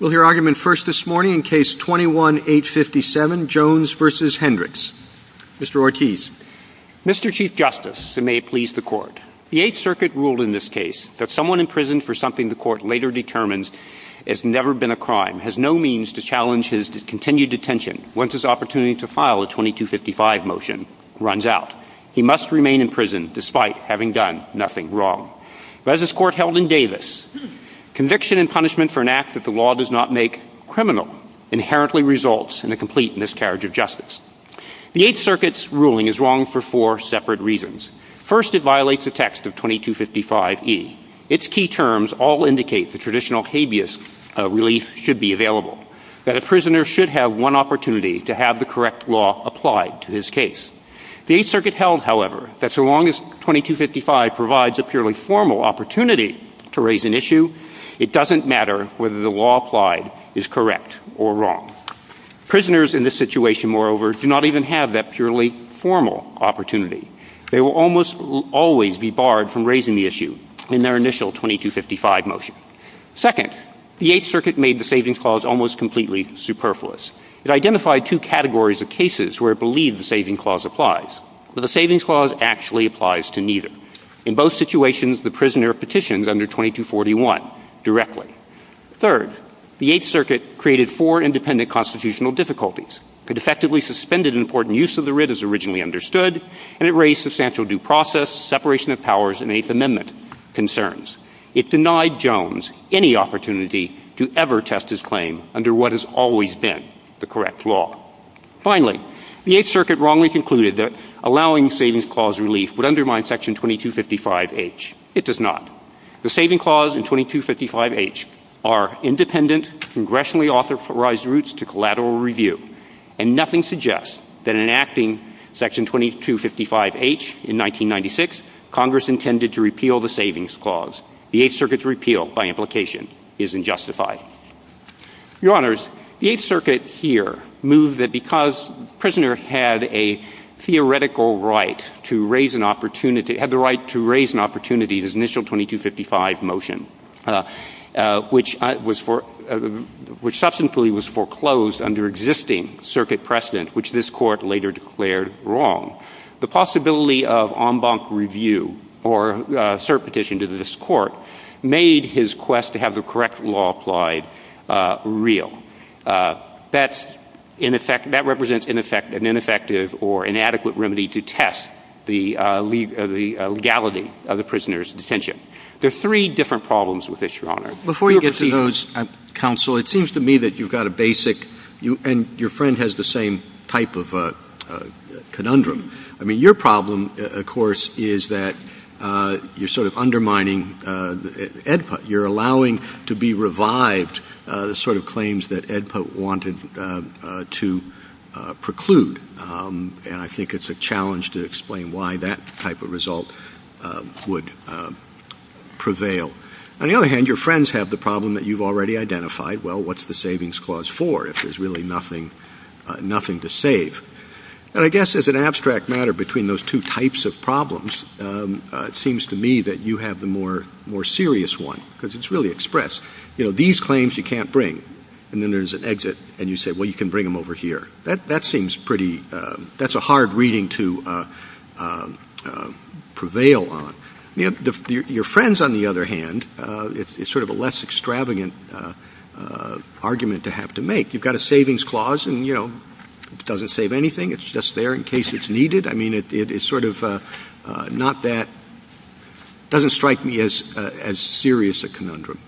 We'll hear argument first this morning in case 21-857, Jones v. Hendrix. Mr. Ortiz. Mr. Chief Justice, and may it please the Court, the Eighth Circuit ruled in this case that someone imprisoned for something the Court later determines has never been a crime has no means to challenge his continued detention once his opportunity to file a 2255 motion runs out. He must remain in prison despite having done nothing wrong. As this Court held in Davis, conviction and punishment for an act that the law does not make criminal inherently results in a complete miscarriage of justice. The Eighth Circuit's ruling is wrong for four separate reasons. First, it violates the text of 2255e. Its key terms all indicate the traditional habeas relief should be available, that a prisoner should have one opportunity to have the correct law applied to his case. The Eighth Circuit held, however, that so long as 2255 provides a purely formal opportunity to raise an issue, it doesn't matter whether the law applied is correct or wrong. Prisoners in this situation, moreover, do not even have that purely formal opportunity. They will almost always be barred from raising the issue in their initial 2255 motion. Second, the Eighth Circuit made the Savings Clause almost completely superfluous. It identified two categories of cases where it believed the Savings Clause applies, but the Savings Clause actually applies to neither. In both situations, the prisoner petitions under 2241 directly. Third, the Eighth Circuit created four independent constitutional difficulties. It effectively suspended important use of the writ as originally understood, and it raised substantial due process, separation of powers, and Eighth Amendment concerns. It denied Jones any opportunity to ever test his claim under what has always been the correct law. Finally, the Eighth Circuit wrongly concluded that allowing Savings Clause relief would undermine Section 2255H. It does not. The Savings Clause and 2255H are independent, congressionally authorized routes to collateral review, and nothing suggests that in enacting Section 2255H in 1996, Congress intended to repeal the Savings Clause. The Eighth Circuit's repeal, by implication, is unjustified. Your Honors, the Eighth Circuit here moved that because the prisoner had a theoretical right to raise an opportunity, had the right to raise an opportunity in his initial 2255 motion, which was for-which subsequently was foreclosed under existing circuit precedent, which this court later declared wrong. The possibility of en banc review, or cert petition to this court, made his quest to have the correct law applied real. That's, in effect-that represents, in effect, an ineffective or inadequate remedy to test the legality of the prisoner's dissension. There are three different problems with this, Your Honor. Before you get to those, Counsel, it seems to me that you've got a basic-and your friend has the same type of conundrum. I mean, your problem, of course, is that you're sort of undermining EDPOT. You're allowing to be revived the sort of claims that EDPOT wanted to preclude. And I think it's a challenge to explain why that type of result would prevail. On the other hand, your friends have the problem that you've already identified. Well, what's the Savings Clause for if there's really nothing to save? And I guess as an abstract matter between those two types of problems, it seems to me that you have the more serious one, because it's really express. You know, these claims you can't bring. And then there's an exit, and you say, well, you can bring them over here. That seems pretty-that's a hard reading to prevail on. Your friends, on the other hand, it's sort of a less extravagant argument to have to make. You've got a Savings Clause, and, you know, it doesn't save anything. It's just there in case it's needed. I mean, it's sort of not that-it doesn't strike me as serious a conundrum.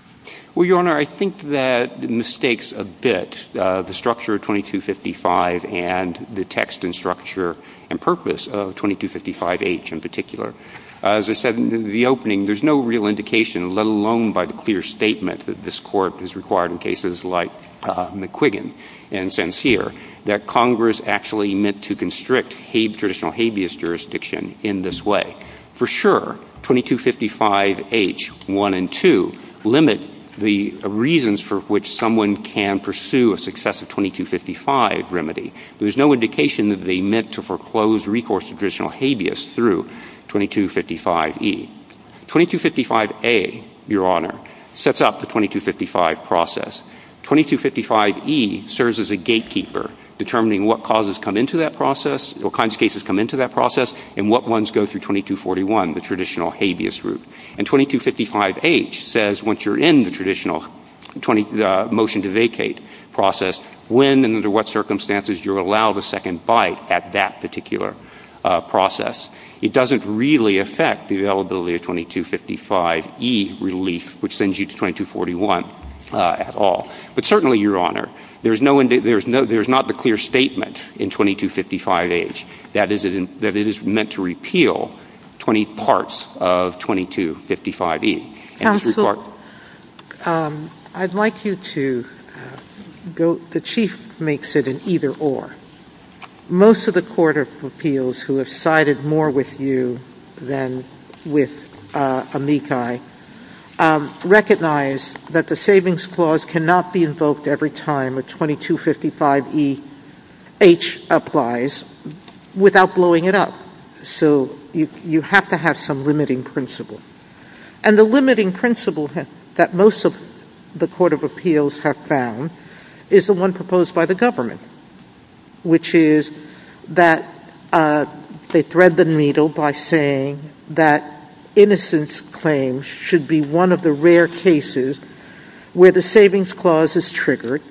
Well, Your Honor, I think that it mistakes a bit the structure of 2255 and the text and structure and purpose of 2255H in particular. As I said in the opening, there's no real indication, let alone by the clear statement that this Court has required in cases like McQuiggan and Sincere, that Congress actually meant to constrict traditional habeas jurisdiction in this way. For sure, 2255H I and II limit the reasons for which someone can pursue a successive 2255 remedy. There's no indication that they meant to foreclose recourse to traditional habeas through 2255E. 2255A, Your Honor, sets up the 2255 process. 2255E serves as a gatekeeper, determining what causes come into that process, what kinds of cases come into that process, and what ones go through 2241, the traditional habeas route. And 2255H says, once you're in the traditional motion to vacate process, when and under what circumstances you're allowed a second bite at that particular process. It doesn't really affect the availability of 2255E relief, which sends you to 2241 at all. But certainly, Your Honor, there's not the clear statement in 2255H that it is meant to repeal 20 parts of 2255E. Counsel, I'd like you to go, the Chief makes it an either or. Most of the court of appeals who have sided more with you than with amici recognize that the savings clause cannot be invoked every time a 2255EH applies without blowing it up. So you have to have some limiting principle. And the limiting principle that most of the court of appeals have found is the one proposed by the government, which is that they thread the needle by saying that innocence claims should be one of the rare cases where the savings clause is triggered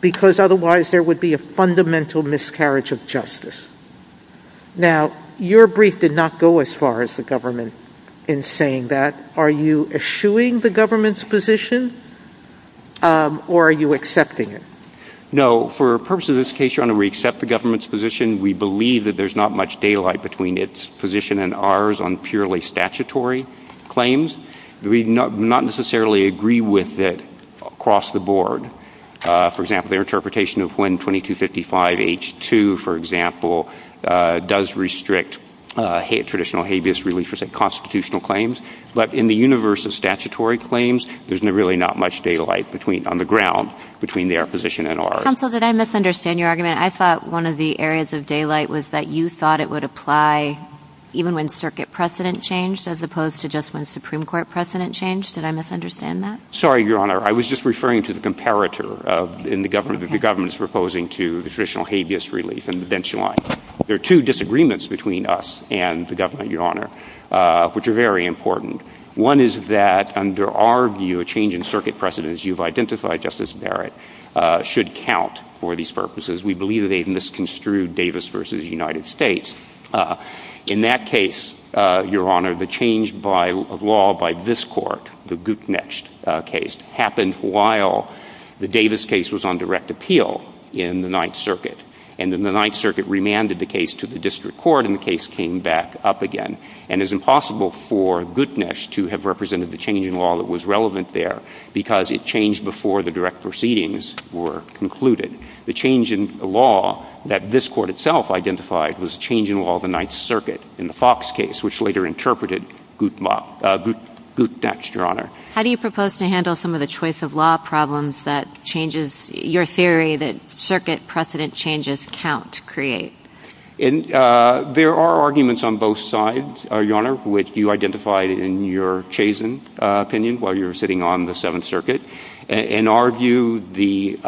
because otherwise there would be a fundamental miscarriage of justice. Now, your brief did not go as far as the government in saying that. Are you eschewing the government's position? Or are you accepting it? No. For purposes of this case, Your Honor, we accept the government's position. We believe that there's not much daylight between its position and ours on purely statutory claims. We do not necessarily agree with it across the board. For example, their interpretation of when 2255H2, for example, does restrict traditional habeas religious and constitutional claims. But in the universe of statutory claims, there's really not much daylight on the ground between their position and ours. Counsel, did I misunderstand your argument? I thought one of the areas of daylight was that you thought it would apply even when circuit precedent changed as opposed to just when Supreme Court precedent changed. Did I misunderstand that? Sorry, Your Honor. I was just referring to the comparator in the government that the government is proposing to the traditional habeas relief and the bench line. There are two disagreements between us and the government, Your Honor, which are very important. One is that under our view, a change in circuit precedent, as you've identified, Justice Barrett, should count for these purposes. We believe that they've misconstrued Davis v. United States. In that case, Your Honor, the change of law by this court, the Guttnacht case, happened while the Davis case was on direct appeal in the Ninth Circuit. And then the Ninth Circuit remanded the case to the district court, and the case came back up again. And it's impossible for Guttnacht to have represented the change in law that was relevant there because it changed before the direct proceedings were concluded. The change in law that this court itself identified was a change in law of the Ninth Circuit in the Fox case, which later interpreted Guttnacht, Your Honor. How do you propose to handle some of the choice of law problems that changes your theory that circuit precedent changes count create? There are arguments on both sides, Your Honor, which you identified in your Chazen opinion while you were sitting on the Seventh Circuit. In our view, the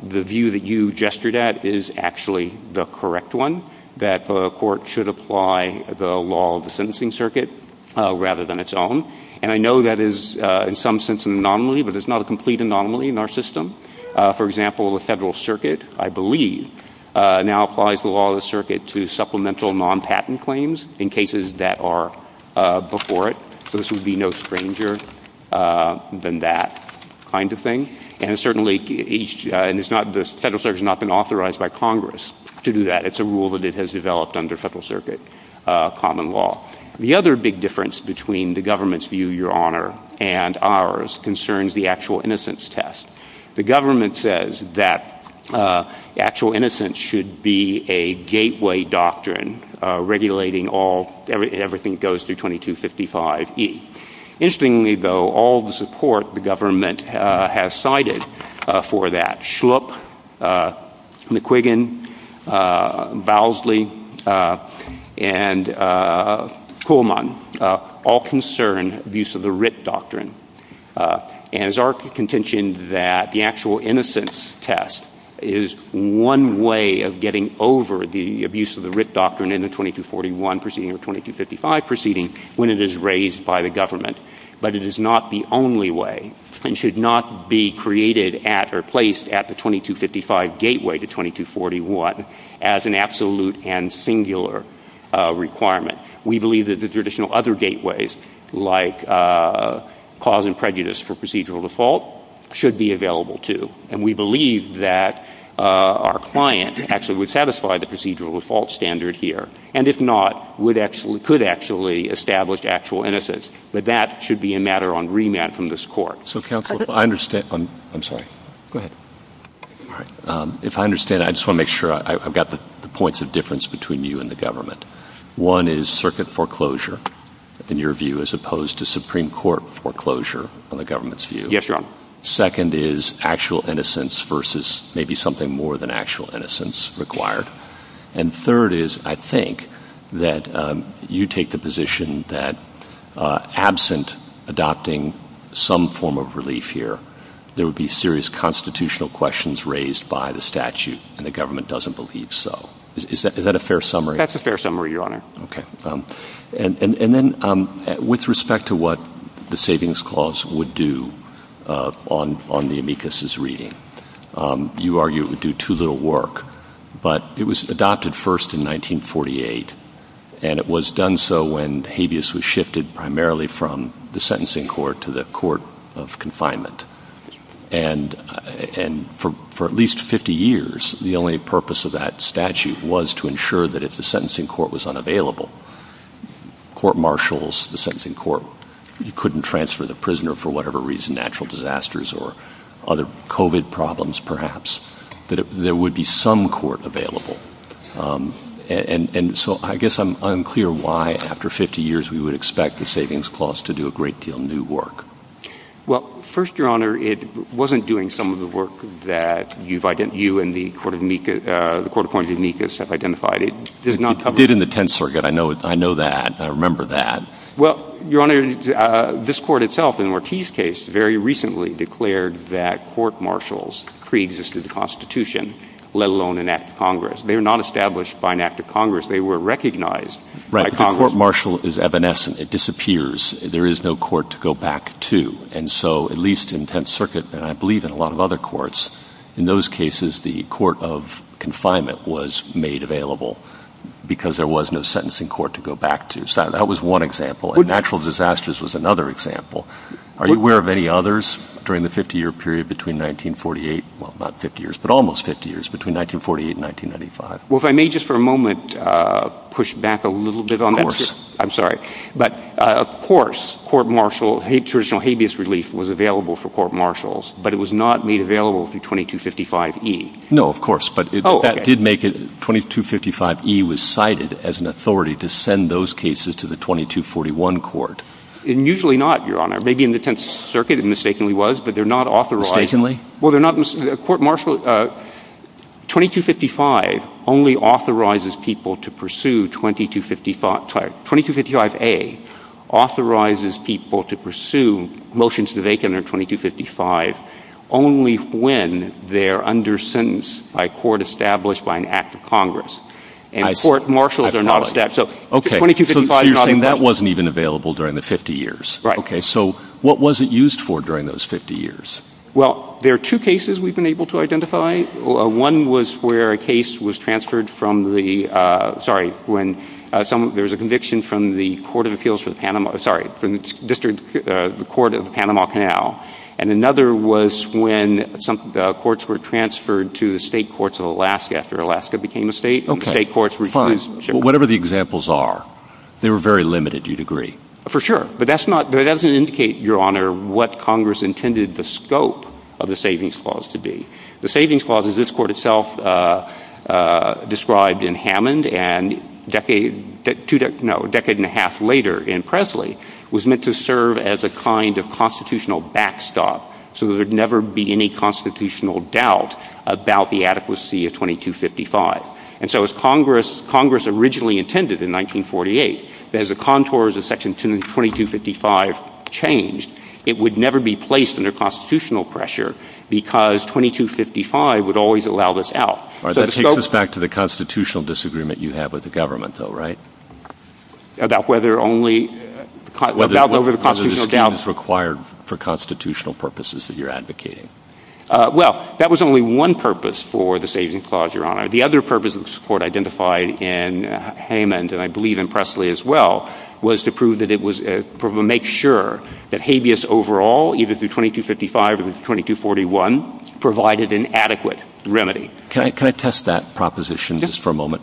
view that you gestured at is actually the correct one, that the court should apply the law of the sentencing circuit rather than its own. And I know that is, in some sense, an anomaly, but it's not a complete anomaly in our system. For example, the federal circuit, I believe, now applies the law of the circuit to supplemental non-patent claims in cases that are before it. So this would be no stranger than that kind of thing. And certainly, the federal circuit has not been authorized by Congress to do that. It's a rule that it has developed under federal circuit common law. The other big difference between the government's view, Your Honor, and ours concerns the actual innocence test. The government says that actual innocence should be a gateway doctrine regulating everything that goes through 2255E. Interestingly, though, all the support the government has cited for that, Schlup, McQuiggan, Bowsley, and Kuhlman, all concern the use of the RIP doctrine. And it's our contention that the actual innocence test is one way of getting over the abuse of the RIP doctrine in the 2241 proceeding or 2255 proceeding when it is raised by the government. But it is not the only way, and should not be created at or placed at the 2255 gateway to 2241 as an absolute and singular requirement. We believe that the traditional other gateways, like cause and prejudice for procedural default, should be available, too. And we believe that our client actually would satisfy the procedural default standard here. And if not, could actually establish actual innocence. But that should be a matter on remand from this Court. So, counsel, if I understand... I'm sorry. Go ahead. If I understand, I just want to make sure I've got the points of difference between you and the government. One is circuit foreclosure, in your view, as opposed to Supreme Court foreclosure, in the government's view. Yes, Your Honor. Second is actual innocence versus maybe something more than actual innocence required. And third is, I think, that you take the position that absent adopting some form of relief here, there would be serious constitutional questions raised by the statute, and the government doesn't believe so. Is that a fair summary? That's a fair summary, Your Honor. Okay. And then, with respect to what the Savings Clause would do on the amicus's reading, you argue it would do too little work. But it was adopted first in 1948, and it was done so when habeas was shifted primarily from the sentencing court to the court of confinement. And for at least 50 years, the only purpose of that statute was to ensure that if the sentencing court was unavailable, court marshals, the sentencing court, you couldn't transfer the prisoner for whatever reason, natural disasters or other COVID problems, perhaps, that there would be some court available. And so I guess I'm unclear why, after 50 years, we would expect the Savings Clause to do a great deal of new work. Well, first, Your Honor, it wasn't doing some of the work that you and the court appointed amicus have identified. It did in the Tenth Circuit. I know that. I remember that. Well, Your Honor, this court itself, in Marti's case, very recently declared that court marshals preexisted the Constitution, let alone an act of Congress. They were not established by an act of Congress. They were recognized by Congress. The court marshal is evanescent. It disappears. There is no court to go back to. And so, at least in Tenth Circuit, and I believe in a lot of other courts, in those cases, the court of confinement was made available because there was no sentencing court to go back to. So that was one example. Natural disasters was another example. Are you aware of any others during the 50-year period between 1948, well, not 50 years, but almost 50 years, between 1948 and 1995? Well, if I may just for a moment push back a little bit on that. Of course. I'm sorry. But, of course, court martial, traditional habeas relief was available for court marshals. But it was not made available through 2255E. No, of course. But that did make it, 2255E was cited as an authority to send those cases to the 2241 court. Usually not, Your Honor. Maybe in the Tenth Circuit it mistakenly was, but they're not authorized. Mistakenly? Well, they're not, court martial, 2255 only authorizes people to pursue 2255A, authorizes people to pursue motions to vacate under 2255 only when they're under sentence by a court established by an act of Congress. And court marshals are not established, so 2255 is not an option. Okay, so you're saying that wasn't even available during the 50 years. Right. Okay, so what was it used for during those 50 years? Well, there are two cases we've been able to identify. One was where a case was transferred from the, sorry, when there was a conviction from the District Court of Panama Canal. And another was when the courts were transferred to the state courts of Alaska after Alaska became a state. Okay, fine. Whatever the examples are, they were very limited, do you agree? For sure, but that doesn't indicate, Your Honor, what Congress intended the scope of the Savings Clause to be. The Savings Clause, as this court itself described in Hammond and a decade and a half later in Presley, was meant to serve as a kind of constitutional backstop so there would never be any constitutional doubt about the adequacy of 2255. And so as Congress originally intended in 1948, as the contours of Section 2255 changed, it would never be placed under constitutional pressure because 2255 would always allow this out. All right, that takes us back to the constitutional disagreement you had with the government, though, right? About whether only, about whether the constitutional doubt— Whether there was a dispute required for constitutional purposes that you're advocating. Well, that was only one purpose for the Savings Clause, Your Honor. The other purpose this court identified in Hammond, and I believe in Presley as well, was to prove that it was—to make sure that habeas overall, either through 2255 or through 2241, provided an adequate remedy. Can I test that proposition just for a moment?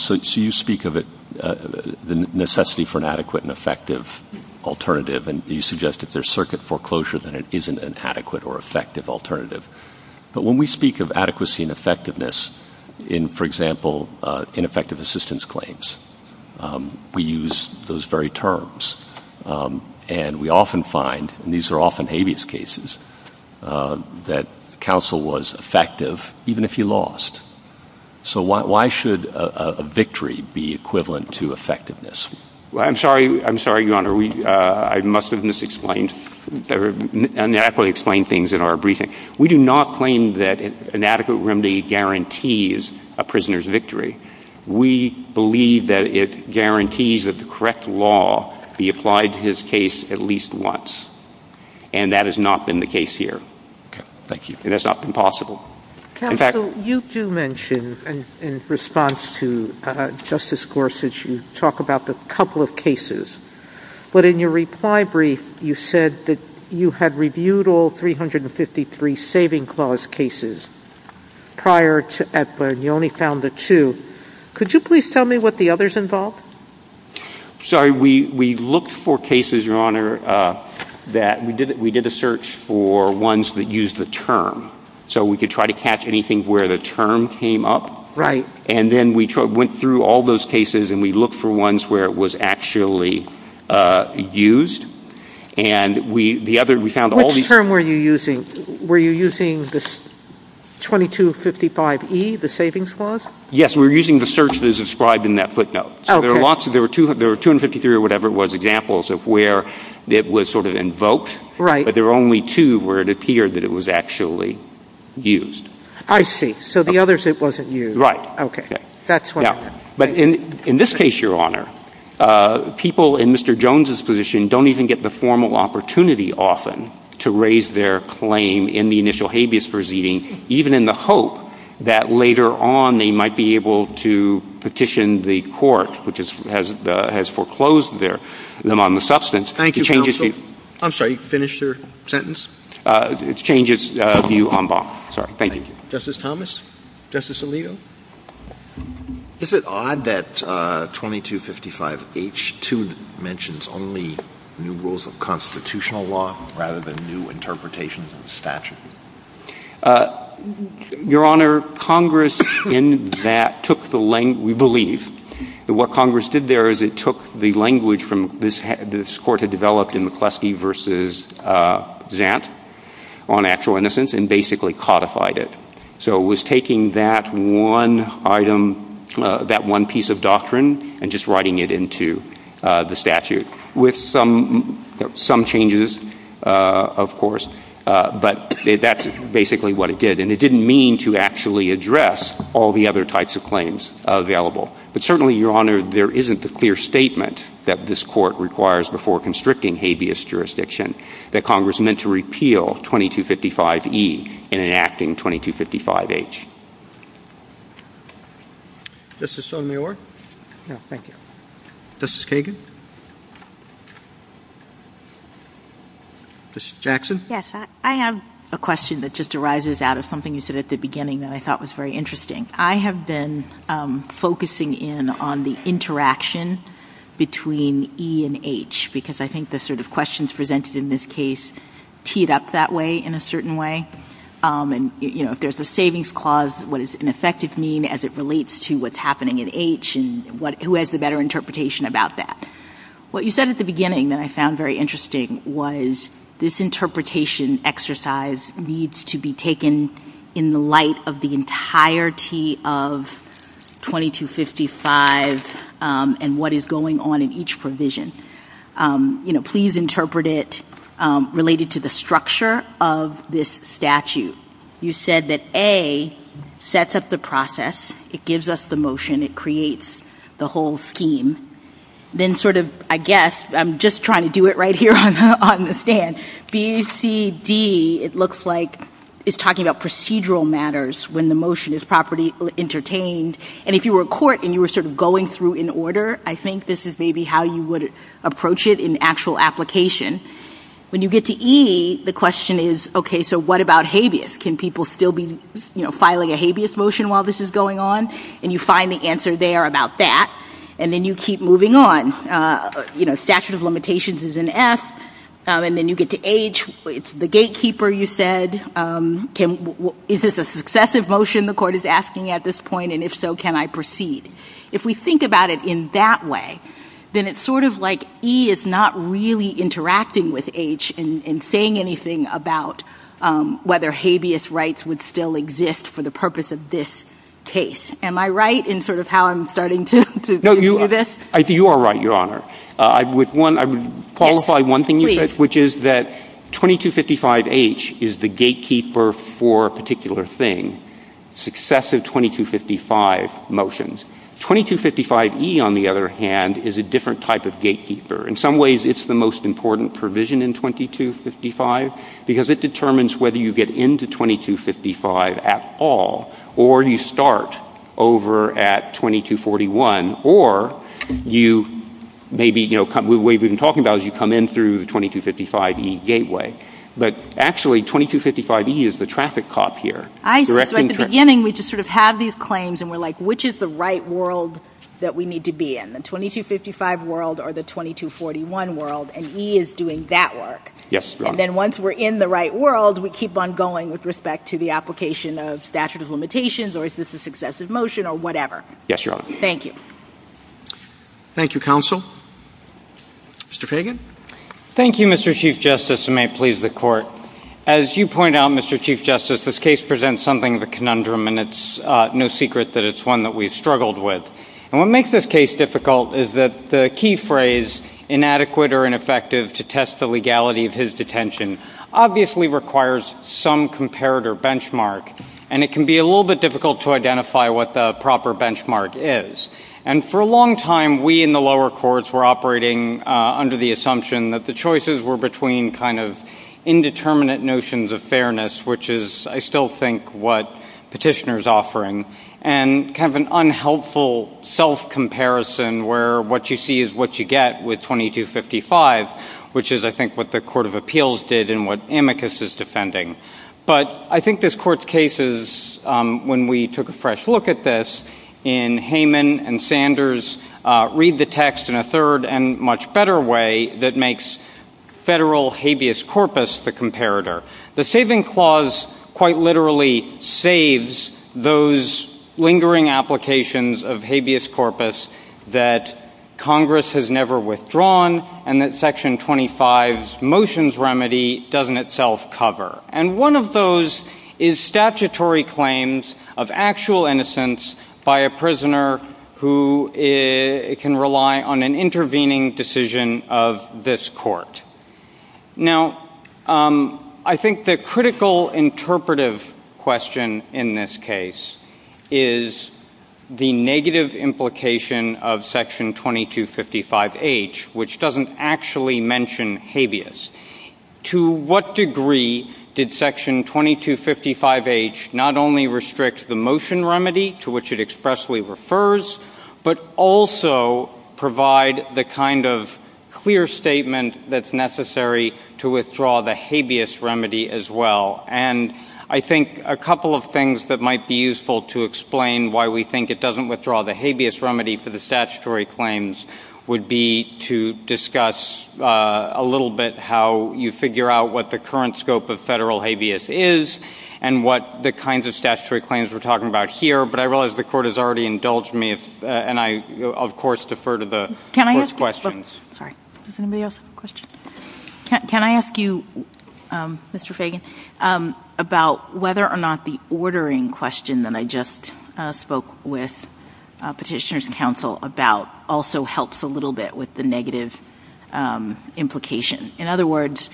So you speak of the necessity for an adequate and effective alternative, and you suggest if there's circuit foreclosure, then it isn't an adequate or effective alternative. But when we speak of adequacy and effectiveness in, for example, ineffective assistance claims, we use those very terms, and we often find—and these are often habeas cases— that counsel was effective even if he lost. So why should a victory be equivalent to effectiveness? Well, I'm sorry. I'm sorry, Your Honor. We—I must have mis-explained—neatly explained things in our briefing. We do not claim that an adequate remedy guarantees a prisoner's victory. We believe that it guarantees that the correct law be applied to his case at least once. And that has not been the case here. Thank you. And that's not been possible. Counsel, you do mention, in response to Justice Gorsuch, you talk about a couple of cases. But in your reply brief, you said that you had reviewed all 353 saving clause cases prior to— and you only found the two. Could you please tell me what the others involved? Sorry. We looked for cases, Your Honor, that—we did a search for ones that used the term. So we could try to catch anything where the term came up. Right. And then we went through all those cases, and we looked for ones where it was actually used. And we—the other—we found all these— Which term were you using? Were you using the 2255E, the savings clause? Yes. We were using the search that is described in that footnote. So there are lots of—there were 253 or whatever it was, examples of where it was sort of invoked. Right. But there were only two where it appeared that it was actually used. I see. So the others it wasn't used. Right. Okay. That's why— But in this case, Your Honor, people in Mr. Jones' position don't even get the formal opportunity often to raise their claim in the initial habeas proceeding, even in the hope that later on they might be able to petition the court, which has foreclosed them on the substance. Thank you, counsel. I'm sorry. Finish your sentence. It changes view en banc. Sorry. Thank you. Justice Thomas? Justice Alito? Is it odd that 2255H2 mentions only new rules of constitutional law rather than new interpretations of statute? Your Honor, Congress in that took the—we believe that what Congress did there is it took the language this Court had developed in McCleskey v. Zant on actual innocence and basically codified it. So it was taking that one item, that one piece of doctrine, and just writing it into the statute with some changes, of course. But that's basically what it did. And it didn't mean to actually address all the other types of claims available. But certainly, Your Honor, there isn't a clear statement that this Court requires before constricting habeas jurisdiction that Congress meant to repeal 2255E and enacting 2255H. Justice Sotomayor? No, thank you. Justice Kagan? Justice Jackson? Yes. I have a question that just arises out of something you said at the beginning that I thought was very interesting. I have been focusing in on the interaction between E and H because I think the sort of questions presented in this case teed up that way in a certain way. And, you know, if there's a savings clause, what does ineffective mean as it relates to what's happening at H and who has the better interpretation about that? What you said at the beginning that I found very interesting was this interpretation exercise needs to be taken in the light of the entirety of 2255 and what is going on in each provision. You know, please interpret it related to the structure of this statute. You said that A sets up the process, it gives us the motion, it creates the whole scheme. Then sort of, I guess, I'm just trying to do it right here on the stand, B, C, D, it looks like it's talking about procedural matters when the motion is properly entertained. And if you were in court and you were sort of going through in order, I think this is maybe how you would approach it in actual application. When you get to E, the question is, okay, so what about habeas? Can people still be filing a habeas motion while this is going on? And you find the answer there about that. And then you keep moving on. You know, statute of limitations is in F. And then you get to H. It's the gatekeeper, you said. Is this a successive motion the court is asking at this point? And if so, can I proceed? If we think about it in that way, then it's sort of like E is not really interacting with H and saying anything about whether habeas rights would still exist for the purpose of this case. Am I right in sort of how I'm starting to do this? You are right, Your Honor. I would qualify one thing you said, which is that 2255H is the gatekeeper for a particular thing. Successive 2255 motions. 2255E, on the other hand, is a different type of gatekeeper. In some ways, it's the most important provision in 2255 because it determines whether you get into 2255 at all or you start over at 2241 or maybe the way we've been talking about it is you come in through 2255E gateway. But actually, 2255E is the traffic cop here. At the beginning, we just sort of have these claims and we're like, which is the right world that we need to be in? The 2255 world or the 2241 world? And E is doing that work. And then once we're in the right world, we keep on going with respect to the application of statute of limitations or is this a successive motion or whatever. Yes, Your Honor. Thank you. Thank you, Counsel. Mr. Fagan. Thank you, Mr. Chief Justice, and may it please the Court. As you point out, Mr. Chief Justice, this case presents something of a conundrum and it's no secret that it's one that we've struggled with. And what makes this case difficult is that the key phrase, inadequate or ineffective to test the legality of his detention, obviously requires some comparator benchmark, and it can be a little bit difficult to identify what the proper benchmark is. And for a long time, we in the lower courts were operating under the assumption that the choices were between kind of indeterminate notions of fairness, which is, I still think, what Petitioner is offering, and kind of an unhelpful self-comparison where what you see is what you get with 2255, which is, I think, what the Court of Appeals did and what Amicus is defending. But I think this Court's case is, when we took a fresh look at this, in Hayman and Sanders' read the text in a third and much better way that makes federal habeas corpus the comparator. The saving clause quite literally saves those lingering applications of habeas corpus that Congress has never withdrawn and that Section 25's motions remedy doesn't itself cover. And one of those is statutory claims of actual innocence by a prisoner who can rely on an intervening decision of this court. Now, I think the critical interpretive question in this case is the negative implication of Section 2255H, which doesn't actually mention habeas. To what degree did Section 2255H not only restrict the motion remedy to which it expressly refers, but also provide the kind of clear statement that's necessary to withdraw the habeas remedy as well? And I think a couple of things that might be useful to explain why we think it doesn't withdraw the habeas remedy for the statutory claims would be to discuss a little bit how you figure out what the current scope of federal habeas is and what the kinds of statutory claims we're talking about here. But I realize the Court has already indulged me, and I, of course, defer to the Court's questions. Can I ask you, Mr. Fagan, about whether or not the ordering question that I just spoke with petitioners and counsel about also helps a little bit with the negative implication? In other words,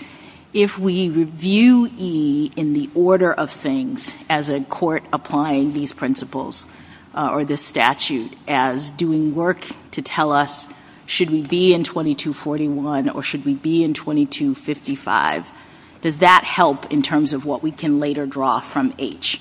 if we review E in the order of things as a court applying these principles or this statute as doing work to tell us should we be in 2241 or should we be in 2255, does that help in terms of what we can later draw from H?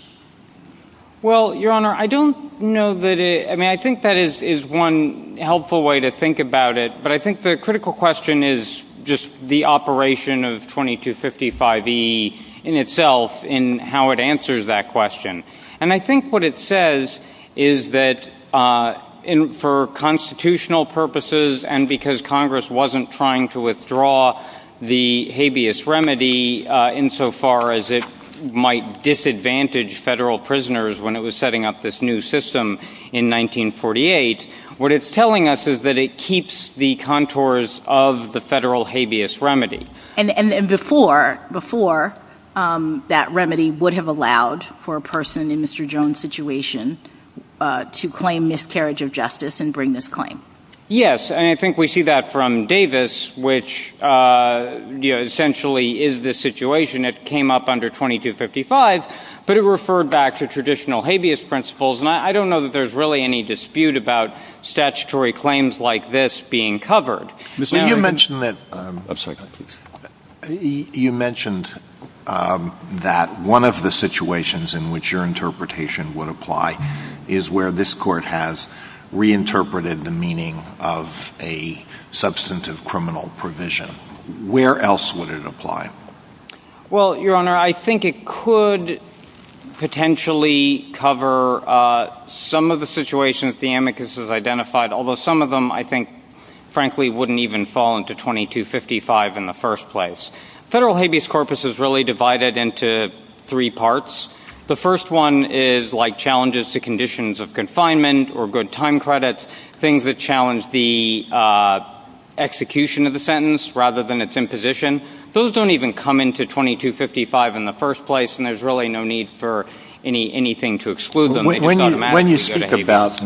Well, Your Honor, I don't know that it – I mean, I think that is one helpful way to think about it, but I think the critical question is just the operation of 2255E in itself in how it answers that question. And I think what it says is that for constitutional purposes and because Congress wasn't trying to withdraw the habeas remedy insofar as it might disadvantage federal prisoners when it was setting up this new system in 1948, what it's telling us is that it keeps the contours of the federal habeas remedy. And before that remedy would have allowed for a person in Mr. Jones' situation to claim miscarriage of justice and bring this claim? Yes, and I think we see that from Davis, which essentially is the situation. It came up under 2255, but it referred back to traditional habeas principles, and I don't know that there's really any dispute about statutory claims like this being covered. You mentioned that one of the situations in which your interpretation would apply is where this Court has reinterpreted the meaning of a substantive criminal provision. Where else would it apply? Well, Your Honor, I think it could potentially cover some of the situations the amicus has identified, although some of them, I think, frankly, wouldn't even fall into 2255 in the first place. Federal habeas corpus is really divided into three parts. The first one is like challenges to conditions of confinement or good time credits, things that challenge the execution of the sentence rather than its imposition. Those don't even come into 2255 in the first place, and there's really no need for anything to exclude them. When you speak about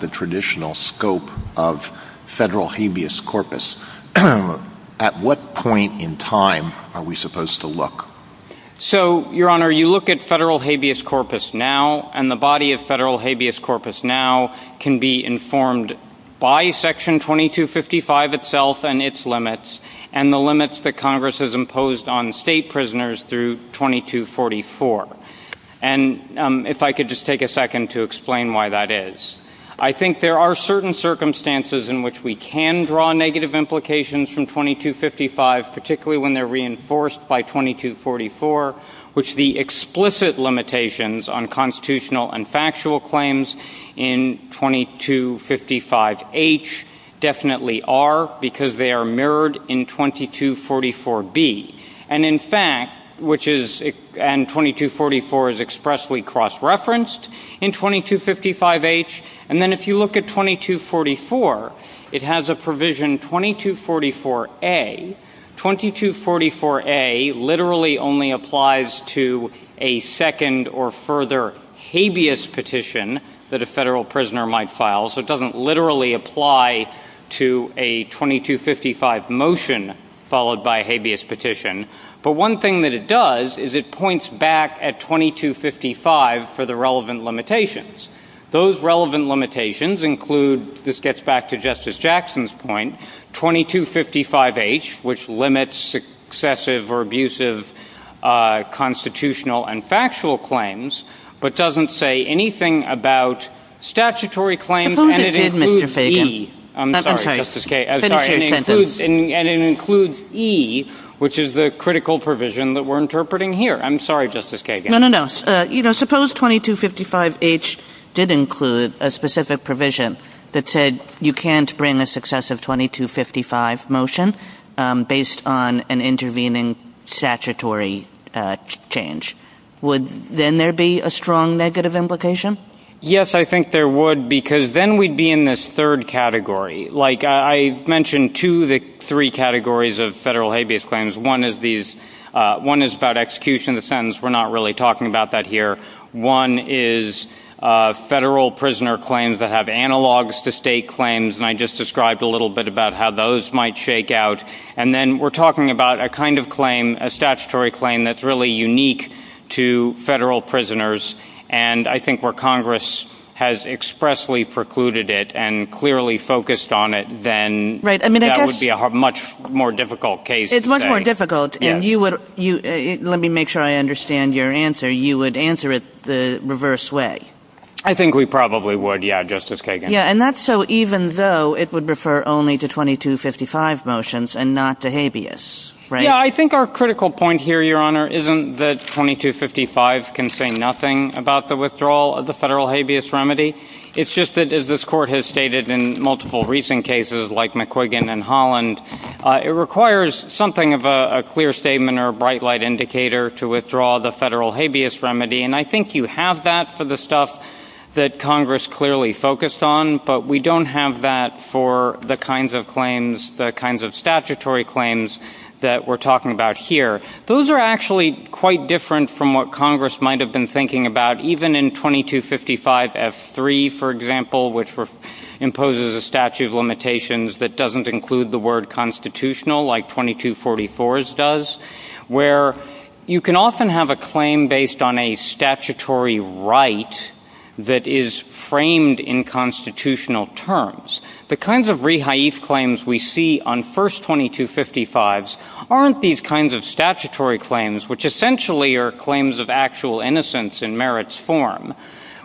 the traditional scope of federal habeas corpus, at what point in time are we supposed to look? So, Your Honor, you look at federal habeas corpus now, and the body of federal habeas corpus now can be informed by Section 2255 itself and its limits and the limits that Congress has imposed on state prisoners through 2244. And if I could just take a second to explain why that is. I think there are certain circumstances in which we can draw negative implications from 2255, particularly when they're reinforced by 2244, which the explicit limitations on constitutional and factual claims in 2255H definitely are because they are mirrored in 2244B. And, in fact, 2244 is expressly cross-referenced in 2255H. And then if you look at 2244, it has a provision 2244A. 2244A literally only applies to a second or further habeas petition that a federal prisoner might file, so it doesn't literally apply to a 2255 motion followed by a habeas petition. But one thing that it does is it points back at 2255 for the relevant limitations. Those relevant limitations include, this gets back to Justice Jackson's point, 2255H, which limits excessive or abusive constitutional and factual claims, but doesn't say anything about statutory claims and it includes E. I'm sorry, Justice Kagan. I'm sorry. And it includes E, which is the critical provision that we're interpreting here. I'm sorry, Justice Kagan. No, no, no. Suppose 2255H did include a specific provision that said you can't bring a successive 2255 motion based on an intervening statutory change. Would then there be a strong negative implication? Yes, I think there would because then we'd be in this third category. Like I mentioned two of the three categories of federal habeas claims. One is about execution of the sentence. We're not really talking about that here. One is federal prisoner claims that have analogs to state claims, and I just described a little bit about how those might shake out. And then we're talking about a kind of claim, a statutory claim that's really unique to federal prisoners, and I think where Congress has expressly precluded it and clearly focused on it, then that would be a much more difficult case. It's much more difficult. Let me make sure I understand your answer. You would answer it the reverse way. I think we probably would, yeah, Justice Kagan. Yeah, and that's so even though it would refer only to 2255 motions and not to habeas, right? Yeah, I think our critical point here, Your Honor, isn't that 2255 can say nothing about the withdrawal of the federal habeas remedy. It's just that, as this Court has stated in multiple recent cases like McQuiggan and Holland, it requires something of a clear statement or a bright light indicator to withdraw the federal habeas remedy, and I think you have that for the stuff that Congress clearly focused on, but we don't have that for the kinds of claims, the kinds of statutory claims that we're talking about here. Those are actually quite different from what Congress might have been thinking about, even in 2255F3, for example, which imposes a statute of limitations that doesn't include the word constitutional, like 2244s does, where you can often have a claim based on a statutory right that is framed in constitutional terms. The kinds of rehaif claims we see on first 2255s aren't these kinds of statutory claims, which essentially are claims of actual innocence in merits form.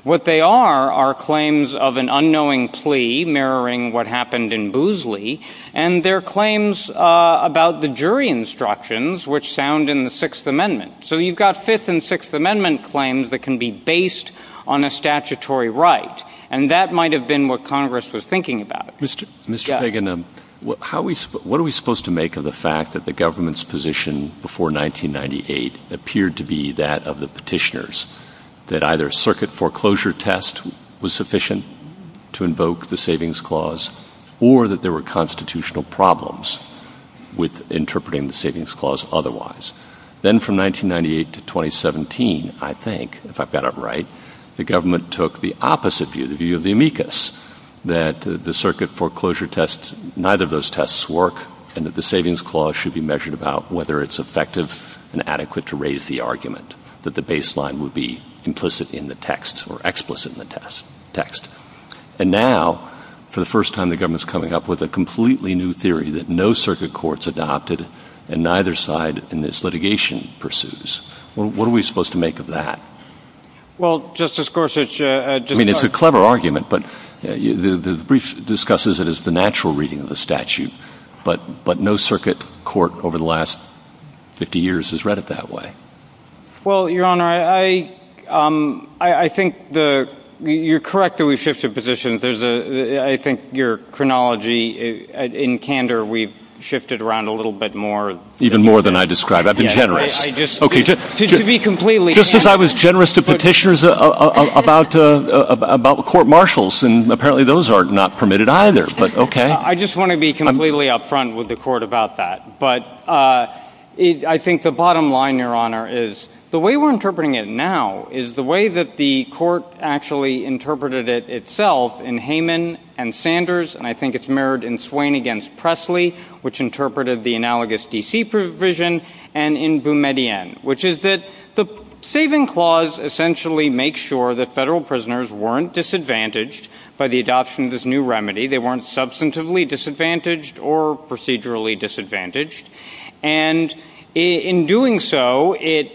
What they are are claims of an unknowing plea mirroring what happened in Boozley, and they're claims about the jury instructions, which sound in the Sixth Amendment. So you've got Fifth and Sixth Amendment claims that can be based on a statutory right, and that might have been what Congress was thinking about. Mr. Fagan, what are we supposed to make of the fact that the government's position before 1998 appeared to be that of the petitioners, that either a circuit foreclosure test was sufficient to invoke the Savings Clause or that there were constitutional problems with interpreting the Savings Clause otherwise? Then from 1998 to 2017, I think, if I've got it right, the government took the opposite view, the view of the amicus, that the circuit foreclosure tests, neither of those tests work, and that the Savings Clause should be measured about whether it's effective and adequate to raise the argument that the baseline would be implicit in the text or explicit in the text. And now, for the first time, the government's coming up with a completely new theory that no circuit court's adopted and neither side in this litigation pursues. What are we supposed to make of that? Well, Justice Gorsuch, just to... I mean, it's a clever argument, but the brief discusses it as the natural reading of the statute, but no circuit court over the last 50 years has read it that way. Well, Your Honor, I think you're correct that we've shifted positions. I think your chronology, in candor, we've shifted around a little bit more. Even more than I described. I've been generous. Just to be completely... Just as I was generous to petitioners about court marshals, and apparently those are not permitted either, but okay. I just want to be completely up front with the Court about that. But I think the bottom line, Your Honor, is the way we're interpreting it now is the way that the Court actually interpreted it itself in Hayman and Sanders, and I think it's mirrored in Swain against Presley, which interpreted the analogous DC provision, and in Boumediene, which is that the saving clause essentially makes sure that federal prisoners weren't disadvantaged by the adoption of this new remedy. They weren't substantively disadvantaged or procedurally disadvantaged. And in doing so, it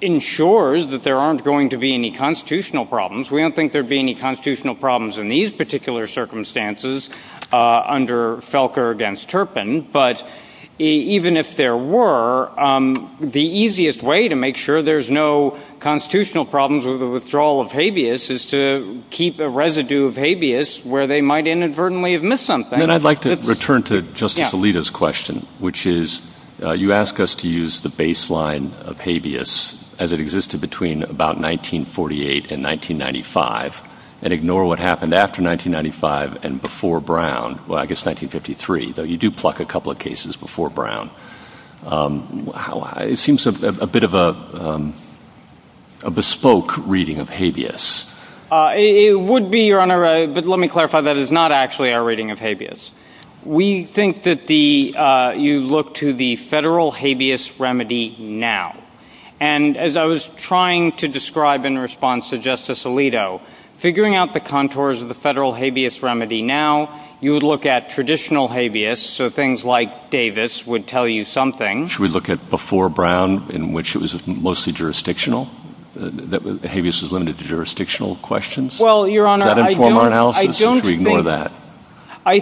ensures that there aren't going to be any constitutional problems. We don't think there will be any constitutional problems in these particular circumstances under Felker against Turpin, but even if there were, the easiest way to make sure there's no constitutional problems with the withdrawal of habeas is to keep a residue of habeas where they might inadvertently have missed something. I'd like to return to Justice Alito's question, which is, you ask us to use the baseline of habeas as it existed between about 1948 and 1995, and ignore what happened after 1995 and before Brown. Well, I guess 1953, though you do pluck a couple of cases before Brown. It seems a bit of a bespoke reading of habeas. It would be, Your Honor, but let me clarify, that is not actually our reading of habeas. We think that you look to the federal habeas remedy now. And as I was trying to describe in response to Justice Alito, figuring out the contours of the federal habeas remedy now, you would look at traditional habeas, so things like Davis would tell you something. Should we look at before Brown, in which it was mostly jurisdictional, that habeas was limited to jurisdictional questions? Well, Your Honor, I don't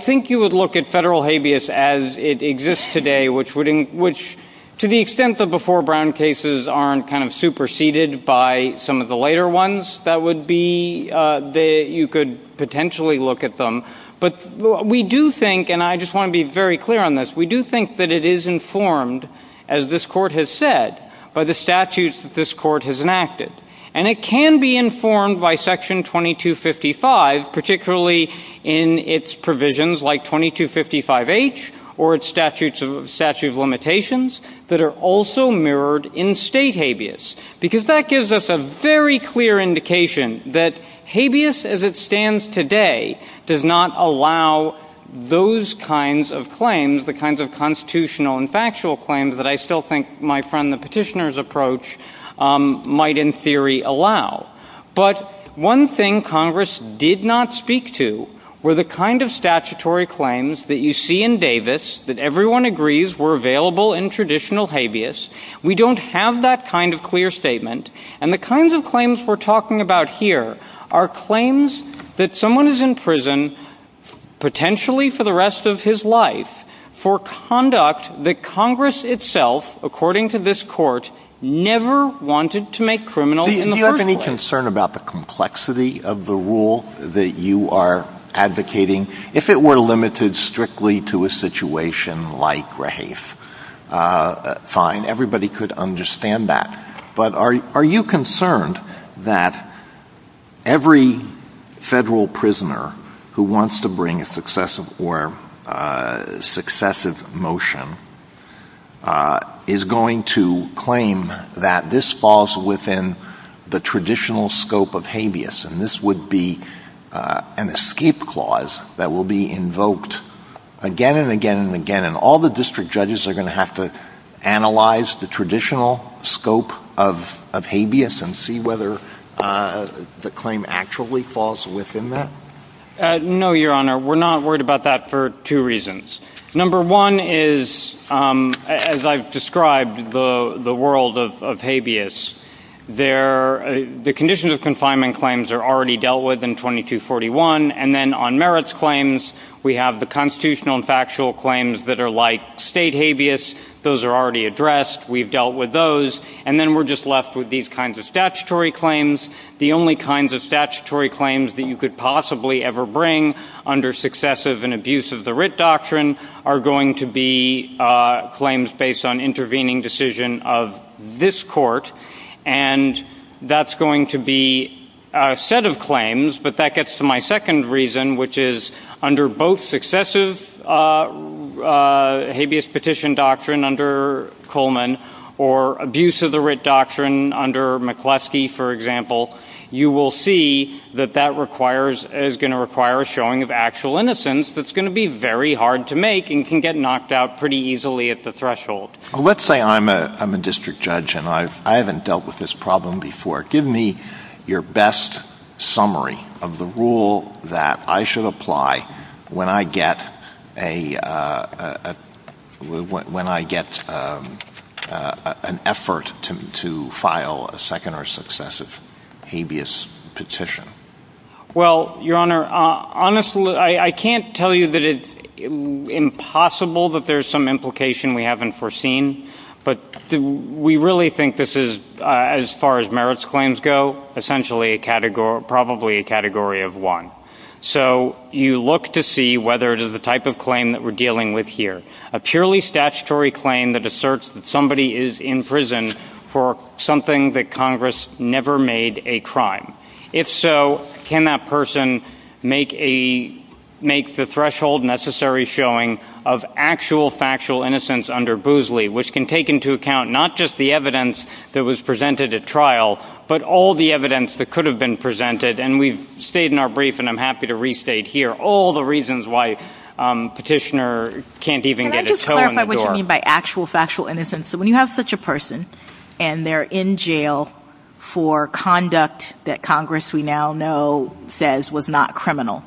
think you would look at federal habeas as it exists today, which to the extent that before Brown cases aren't kind of superseded by some of the later ones, you could potentially look at them. But we do think, and I just want to be very clear on this, we do think that it is informed, as this Court has said, by the statutes that this Court has enacted. And it can be informed by Section 2255, particularly in its provisions like 2255H or its statute of limitations, that are also mirrored in state habeas. Because that gives us a very clear indication that habeas as it stands today does not allow those kinds of claims, the kinds of constitutional and factual claims that I still think my friend the petitioner's approach might in theory allow. But one thing Congress did not speak to were the kind of statutory claims that you see in Davis that everyone agrees were available in traditional habeas. We don't have that kind of clear statement. And the kinds of claims we're talking about here are claims that someone is in prison, potentially for the rest of his life, for conduct that Congress itself, according to this Court, never wanted to make criminal in the court. Do you have any concern about the complexity of the rule that you are advocating? If it were limited strictly to a situation like Rahafe, fine, everybody could understand that. But are you concerned that every federal prisoner who wants to bring a successive motion is going to claim that this falls within the traditional scope of habeas, and this would be an escape clause that will be invoked again and again and again, and all the district judges are going to have to analyze the traditional scope of habeas and see whether the claim actually falls within that? No, Your Honor, we're not worried about that for two reasons. Number one is, as I've described, the world of habeas. The conditions of confinement claims are already dealt with in 2241, and then on merits claims we have the constitutional and factual claims that are like state habeas. Those are already addressed. We've dealt with those. And then we're just left with these kinds of statutory claims, the only kinds of statutory claims that you could possibly ever bring under successive and abuse of the writ doctrine are going to be claims based on intervening decision of this court, and that's going to be a set of claims, but that gets to my second reason, which is under both successive habeas petition doctrine under Coleman or abuse of the writ doctrine under McCluskey, for example, you will see that that is going to require a showing of actual innocence that's going to be very hard to make and can get knocked out pretty easily at the threshold. Let's say I'm a district judge and I haven't dealt with this problem before. Give me your best summary of the rule that I should apply when I get an effort to file a second or successive habeas petition. Well, Your Honor, honestly, I can't tell you that it's impossible that there's some implication we haven't foreseen, but we really think this is, as far as merits claims go, essentially probably a category of one. So you look to see whether it is the type of claim that we're dealing with here, a purely statutory claim that asserts that somebody is in prison for something that Congress never made a crime. If so, can that person make the threshold necessary showing of actual factual innocence under Boozley, which can take into account not just the evidence that was presented at trial, but all the evidence that could have been presented, and we've stayed in our brief and I'm happy to restate here all the reasons why a petitioner can't even get a toe in the door. Can I just clarify what you mean by actual factual innocence? So when you have such a person and they're in jail for conduct that Congress, we now know, says was not criminal,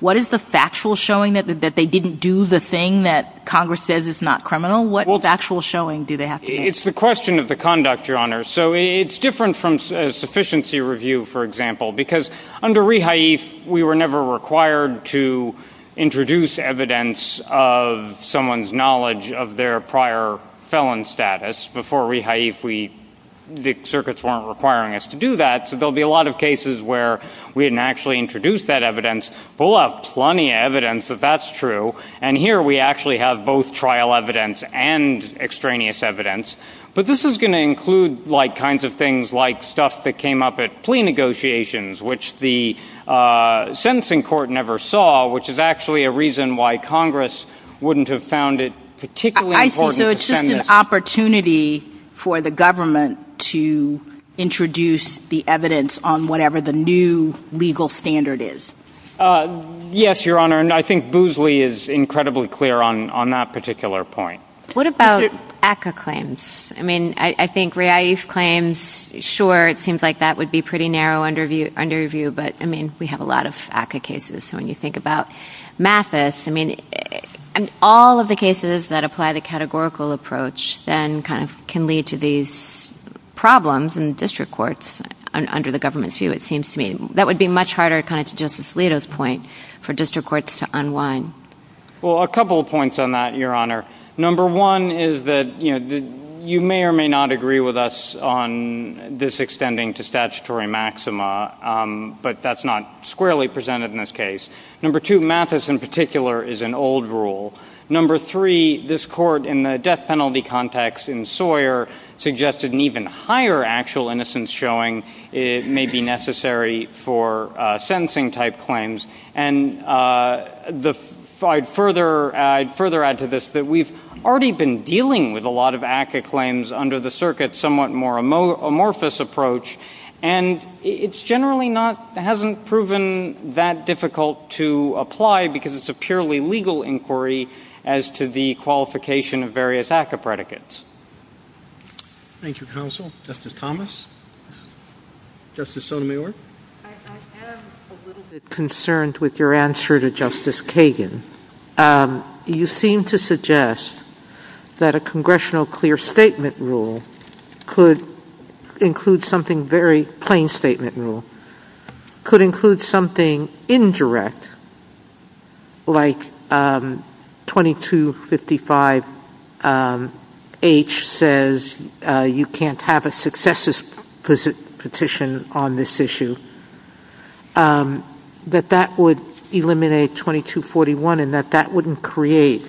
what is the factual showing that they didn't do the thing that Congress says is not criminal? What factual showing do they have to give? It's the question of the conduct, Your Honor. So it's different from a sufficiency review, for example, because under rehaif, we were never required to introduce evidence of someone's knowledge of their prior felon status. Before rehaif, the circuits weren't requiring us to do that, so there will be a lot of cases where we didn't actually introduce that evidence. We'll have plenty of evidence that that's true, and here we actually have both trial evidence and extraneous evidence, but this is going to include kinds of things like stuff that came up at plea negotiations, which the sentencing court never saw, which is actually a reason why Congress wouldn't have found it particularly important. So it's just an opportunity for the government to introduce the evidence on whatever the new legal standard is? Yes, Your Honor, and I think Boozley is incredibly clear on that particular point. What about ACCA claims? I mean, I think rehaif claims, sure, it seems like that would be pretty narrow under review, but, I mean, we have a lot of ACCA cases, so when you think about Mathis, I mean, all of the cases that apply the categorical approach then kind of can lead to these problems in district courts under the government's view, it seems to me. That would be much harder, kind of to Justice Alito's point, for district courts to unwind. Well, a couple of points on that, Your Honor. Number one is that, you know, you may or may not agree with us on this extending to statutory maxima, but that's not squarely presented in this case. Number two, Mathis in particular is an old rule. Number three, this court in the death penalty context in Sawyer suggested an even higher actual innocence showing may be necessary for sentencing-type claims. And I'd further add to this that we've already been dealing with a lot of ACCA claims under the circuit, and it's generally not-hasn't proven that difficult to apply because it's a purely legal inquiry as to the qualification of various ACCA predicates. Thank you, counsel. Justice Thomas? Justice Sotomayor? I am a little bit concerned with your answer to Justice Kagan. You seem to suggest that a congressional clear statement rule could include something very-plain statement rule, could include something indirect, like 2255H says you can't have a successes petition on this issue, that that would eliminate 2241 and that that wouldn't create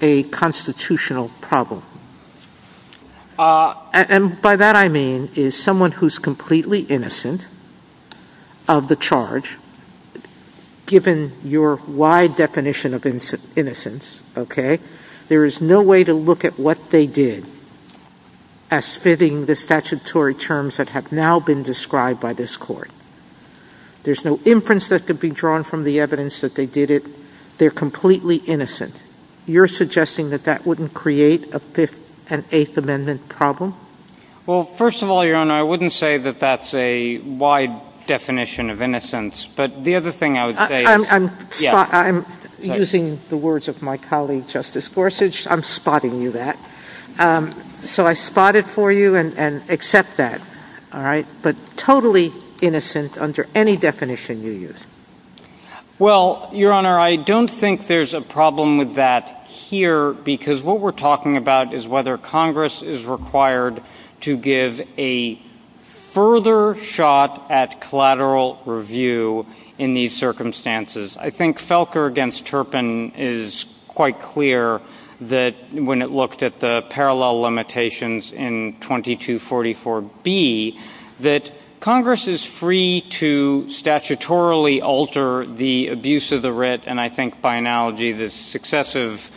a constitutional problem. And by that I mean is someone who's completely innocent of the charge, given your wide definition of innocence, okay, there is no way to look at what they did as fitting the statutory terms that have now been described by this court. There's no inference that could be drawn from the evidence that they did it. They're completely innocent. You're suggesting that that wouldn't create a Fifth and Eighth Amendment problem? Well, first of all, Your Honor, I wouldn't say that that's a wide definition of innocence. But the other thing I would say is- I'm using the words of my colleague Justice Gorsuch. I'm spotting you that. So I spotted for you and accept that, all right, but totally innocent under any definition you use. Well, Your Honor, I don't think there's a problem with that here, because what we're talking about is whether Congress is required to give a further shot at collateral review in these circumstances. I think Felker against Turpin is quite clear that when it looked at the parallel limitations in 2244B, that Congress is free to statutorily alter the abuse of the writ, and I think by analogy the successive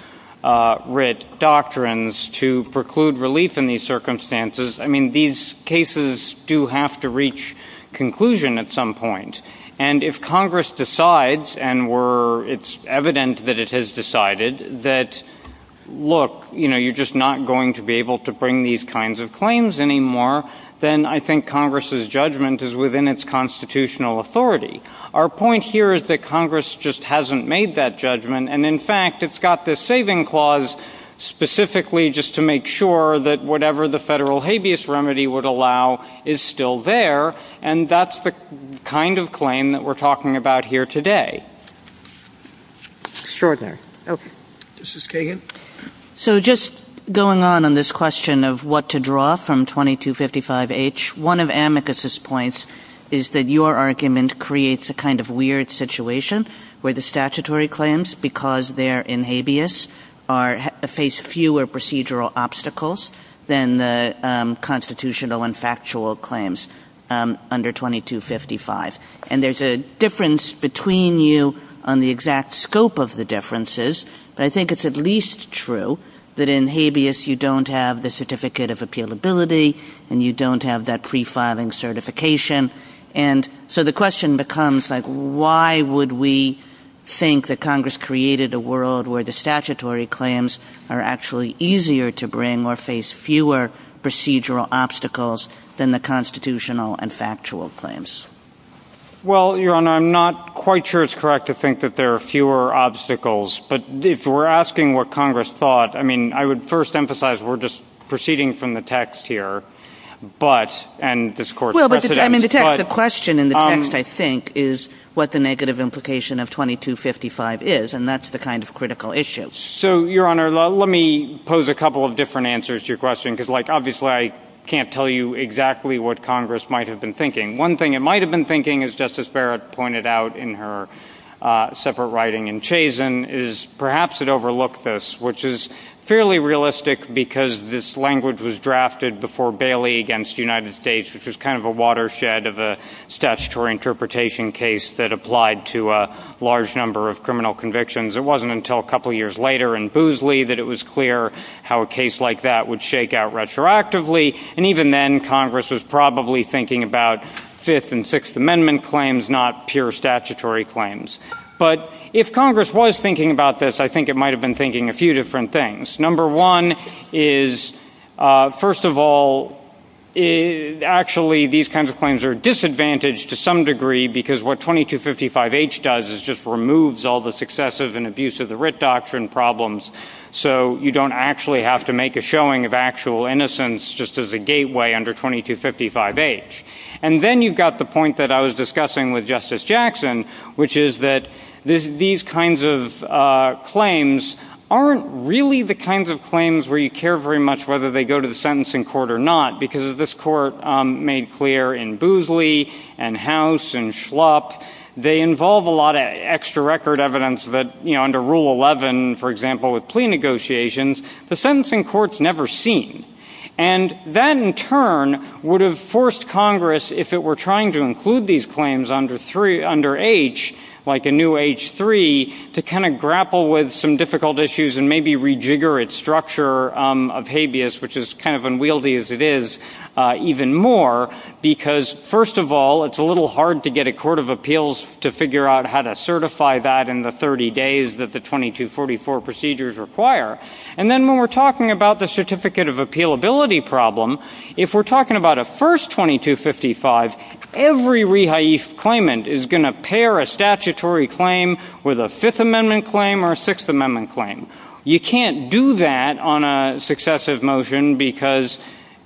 writ doctrines to preclude relief in these circumstances. I mean, these cases do have to reach conclusion at some point. And if Congress decides, and it's evident that it has decided, that look, you're just not going to be able to bring these kinds of claims anymore, then I think Congress's judgment is within its constitutional authority. Our point here is that Congress just hasn't made that judgment, and in fact it's got this saving clause specifically just to make sure that whatever the federal habeas remedy would allow is still there, and that's the kind of claim that we're talking about here today. Sure thing. Okay. Justice Kagan? So just going on in this question of what to draw from 2255H, one of Amicus's points is that your argument creates a kind of weird situation where the statutory claims, because they're in habeas, face fewer procedural obstacles than the constitutional and factual claims under 2255. And there's a difference between you on the exact scope of the differences, but I think it's at least true that in habeas you don't have the certificate of appealability and you don't have that pre-filing certification. And so the question becomes, like, why would we think that Congress created a world where the statutory claims are actually easier to bring or face fewer procedural obstacles than the constitutional and factual claims? Well, Your Honor, I'm not quite sure it's correct to think that there are fewer obstacles, but if we're asking what Congress thought, I mean, I would first emphasize we're just proceeding from the text here, and this Court's precedent. Well, but the question in the text, I think, is what the negative implication of 2255 is, and that's the kind of critical issue. So, Your Honor, let me pose a couple of different answers to your question, because, like, obviously I can't tell you exactly what Congress might have been thinking. One thing it might have been thinking, as Justice Barrett pointed out in her separate writing in Chazen, is perhaps it overlooked this, which is fairly realistic because this language was drafted before Bailey against the United States, which was kind of a watershed of a statutory interpretation case that applied to a large number of criminal convictions. It wasn't until a couple of years later in Boozley that it was clear how a case like that would shake out retroactively, and even then Congress was probably thinking about Fifth and Sixth Amendment claims, not pure statutory claims. But if Congress was thinking about this, I think it might have been thinking a few different things. Number one is, first of all, actually these kinds of claims are disadvantaged to some degree because what 2255H does is just removes all the successive and abusive writ doctrine problems, so you don't actually have to make a showing of actual innocence just as a gateway under 2255H. And then you've got the point that I was discussing with Justice Jackson, which is that these kinds of claims aren't really the kinds of claims where you care very much whether they go to the sentencing court or not, because this court made clear in Boozley and House and Schlupp that they involve a lot of extra record evidence that under Rule 11, for example, with plea negotiations, the sentencing court's never seen. And that in turn would have forced Congress, if it were trying to include these claims under H, like a new H-3, to kind of grapple with some difficult issues and maybe rejigger its structure of habeas, which is kind of unwieldy as it is, even more, because, first of all, it's a little hard to get a court of appeals to figure out how to certify that in the 30 days that the 2244 procedures require. And then when we're talking about the certificate of appealability problem, if we're talking about a first 2255, every rehaif claimant is going to pair a statutory claim with a Fifth Amendment claim or a Sixth Amendment claim. You can't do that on a successive motion because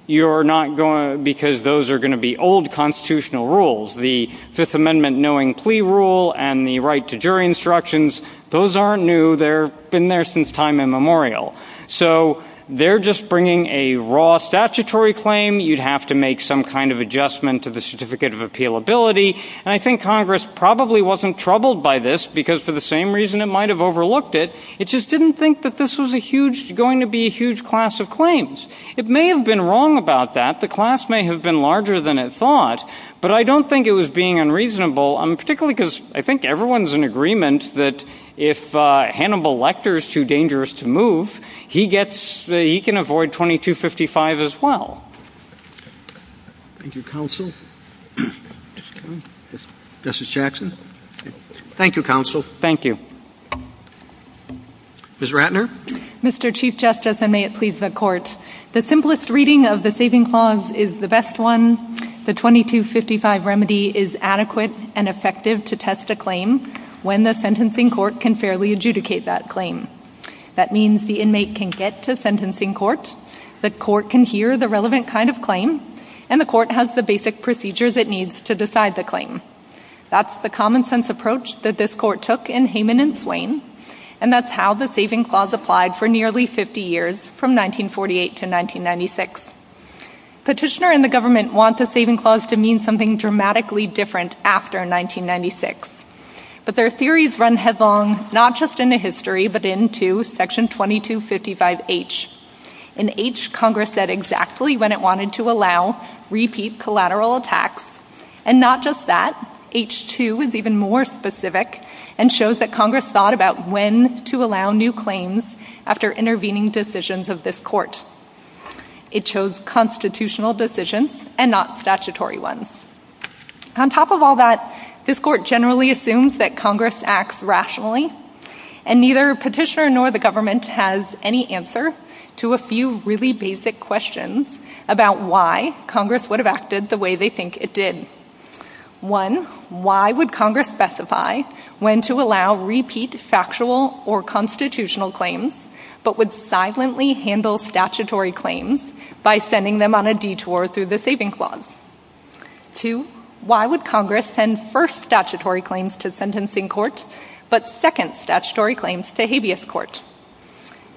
those are going to be old constitutional rules. The Fifth Amendment knowing plea rule and the right to jury instructions, those aren't new. They've been there since time immemorial. So they're just bringing a raw statutory claim. You'd have to make some kind of adjustment to the certificate of appealability. And I think Congress probably wasn't troubled by this because, for the same reason it might have overlooked it, it just didn't think that this was going to be a huge class of claims. It may have been wrong about that. The class may have been larger than it thought, but I don't think it was being unreasonable, particularly because I think everyone's in agreement that if Hannibal Lecter is too dangerous to move, he can avoid 2255 as well. Thank you, counsel. Justice Jackson? Thank you, counsel. Thank you. Ms. Ratner? Mr. Chief Justice, and may it please the Court, the simplest reading of the saving clause is the best one. The 2255 remedy is adequate and effective to test a claim when the sentencing court can fairly adjudicate that claim. That means the inmate can get to sentencing court, the court can hear the relevant kind of claim, and the court has the basic procedures it needs to decide the claim. That's the common-sense approach that this court took in Hayman and Swain, and that's how the saving clause applied for nearly 50 years, from 1948 to 1996. Petitioner and the government want the saving clause to mean something dramatically different after 1996, but their theories run headlong not just into history, but into Section 2255H, an H Congress said exactly when it wanted to allow repeat collateral attacks, and not just that, H2 is even more specific and shows that Congress thought about when to allow new claims after intervening decisions of this court. It chose constitutional decisions and not statutory ones. On top of all that, this court generally assumes that Congress acts rationally, and neither petitioner nor the government has any answer to a few really basic questions about why Congress would have acted the way they think it did. One, why would Congress specify when to allow repeat factual or constitutional claims, but would silently handle statutory claims by sending them on a detour through the saving clause? Two, why would Congress send first statutory claims to sentencing court, but second statutory claims to habeas court?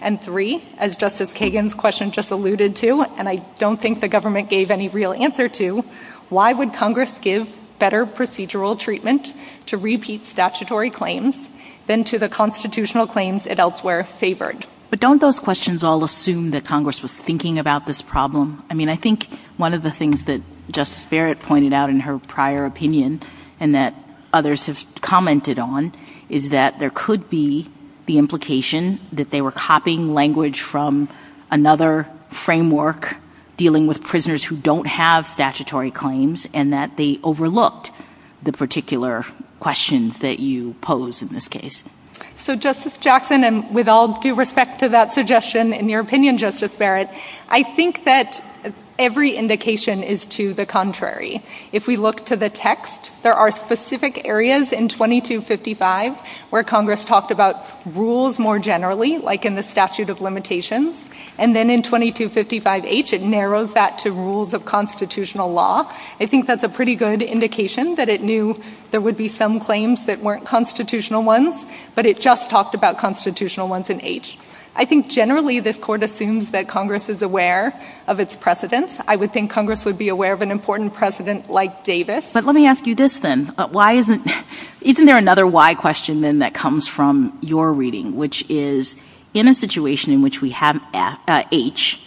And three, as Justice Kagan's question just alluded to, and I don't think the government gave any real answer to, why would Congress give better procedural treatment to repeat statutory claims than to the constitutional claims it elsewhere favored? But don't those questions all assume that Congress was thinking about this problem? I mean, I think one of the things that Justice Barrett pointed out in her prior opinion, and that others have commented on, is that there could be the implication that they were copying language from another framework, dealing with prisoners who don't have statutory claims, and that they overlooked the particular questions that you pose in this case. So, Justice Jackson, and with all due respect to that suggestion, in your opinion, Justice Barrett, I think that every indication is to the contrary. If we look to the text, there are specific areas in 2255 where Congress talked about rules more generally, like in the statute of limitations, and then in 2255H it narrows that to rules of constitutional law. I think that's a pretty good indication that it knew there would be some claims that weren't constitutional ones, but it just talked about constitutional ones in H. I think generally this court assumes that Congress is aware of its precedents. I would think Congress would be aware of an important precedent like Davis. But let me ask you this then. Isn't there another why question then that comes from your reading, which is in a situation in which we have H,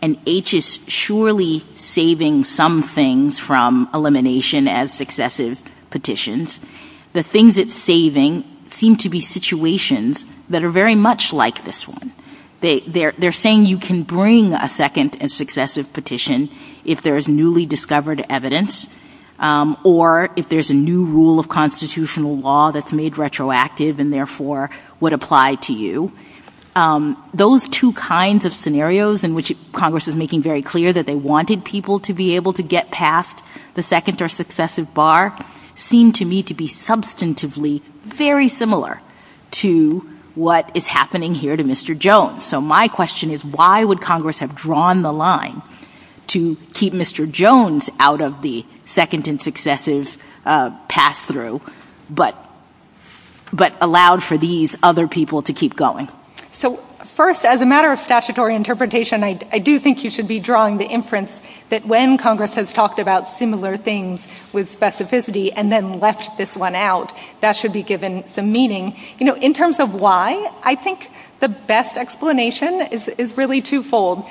and H is surely saving some things from elimination as successive petitions, the things it's saving seem to be situations that are very much like this one. They're saying you can bring a second and successive petition if there's newly discovered evidence or if there's a new rule of constitutional law that's made retroactive and therefore would apply to you. Those two kinds of scenarios in which Congress is making very clear that they wanted people to be able to get past the second or successive bar seem to me to be substantively very similar to what is happening here to Mr. Jones. So my question is why would Congress have drawn the line to keep Mr. Jones out of the second and successive pass-through but allowed for these other people to keep going? First, as a matter of statutory interpretation, I do think you should be drawing the inference that when Congress has talked about similar things with specificity and then left this one out, that should be given some meaning. In terms of why, I think the best explanation is really twofold.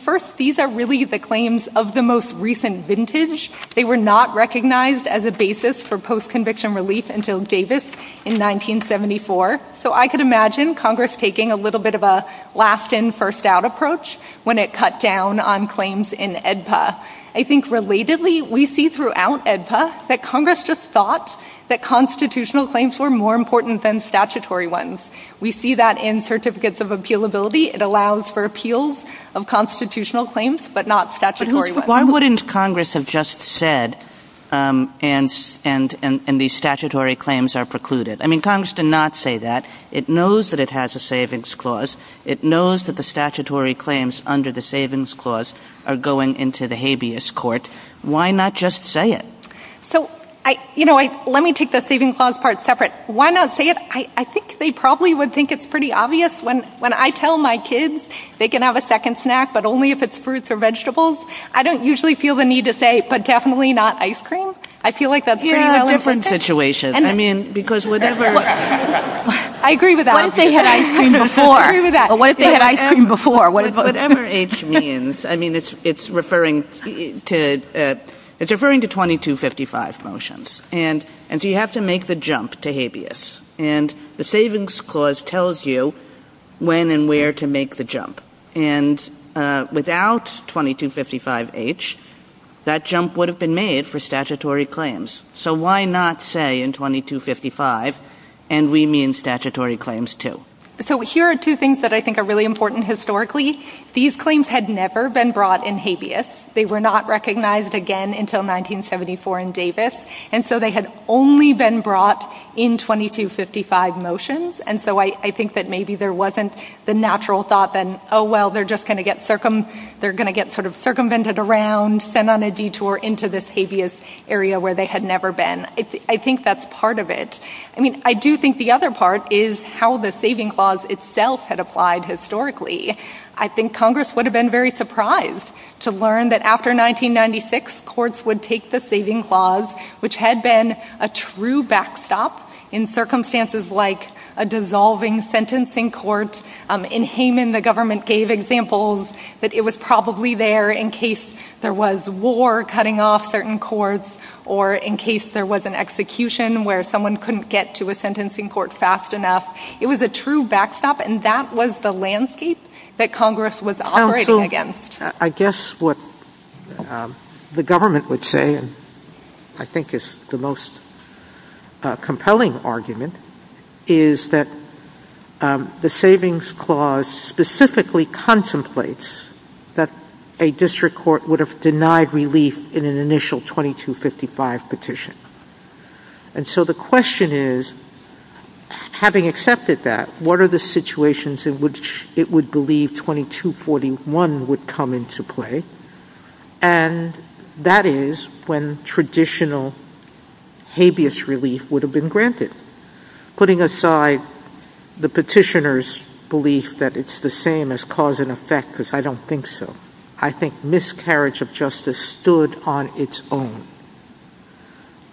First, these are really the claims of the most recent vintage. They were not recognized as a basis for post-conviction relief until Davis in 1974. So I could imagine Congress taking a little bit of a last-in, first-out approach when it cut down on claims in AEDPA. I think relatedly, we see throughout AEDPA that Congress just thought that constitutional claims were more important than statutory ones. We see that in certificates of appealability. It allows for appeals of constitutional claims but not statutory ones. Why wouldn't Congress have just said, and these statutory claims are precluded? I mean, Congress did not say that. It knows that it has a savings clause. It knows that the statutory claims under the savings clause are going into the habeas court. Why not just say it? Let me take the savings clause part separate. Why not say it? I think they probably would think it's pretty obvious. When I tell my kids they can have a second snack but only if it's fruits or vegetables, I don't usually feel the need to say, but definitely not ice cream. I feel like that's a different situation. I agree with that. Once they had ice cream before. Once they had ice cream before. Whatever H means, I mean, it's referring to 2255 motions, and so you have to make the jump to habeas. And the savings clause tells you when and where to make the jump. And without 2255H, that jump would have been made for statutory claims. So why not say in 2255, and we mean statutory claims too? So here are two things that I think are really important historically. These claims had never been brought in habeas. They were not recognized again until 1974 in Davis, and so they had only been brought in 2255 motions. And so I think that maybe there wasn't the natural thought then, oh, well, they're going to get sort of circumvented around, sent on a detour into this habeas area where they had never been. I think that's part of it. I mean, I do think the other part is how the saving clause itself had applied historically. I think Congress would have been very surprised to learn that after 1996, courts would take the saving clause, which had been a true backstop in circumstances like a dissolving sentencing court. In Hayman, the government gave examples that it was probably there in case there was war cutting off certain courts or in case there was an execution where someone couldn't get to a sentencing court fast enough. It was a true backstop, and that was the landscape that Congress was operating against. I guess what the government would say I think is the most compelling argument is that the savings clause specifically contemplates that a district court would have denied relief in an initial 2255 petition. And so the question is, having accepted that, what are the situations in which it would believe 2241 would come into play? And that is when traditional habeas relief would have been granted. Putting aside the petitioner's belief that it's the same as cause and effect, because I don't think so, I think miscarriage of justice stood on its own.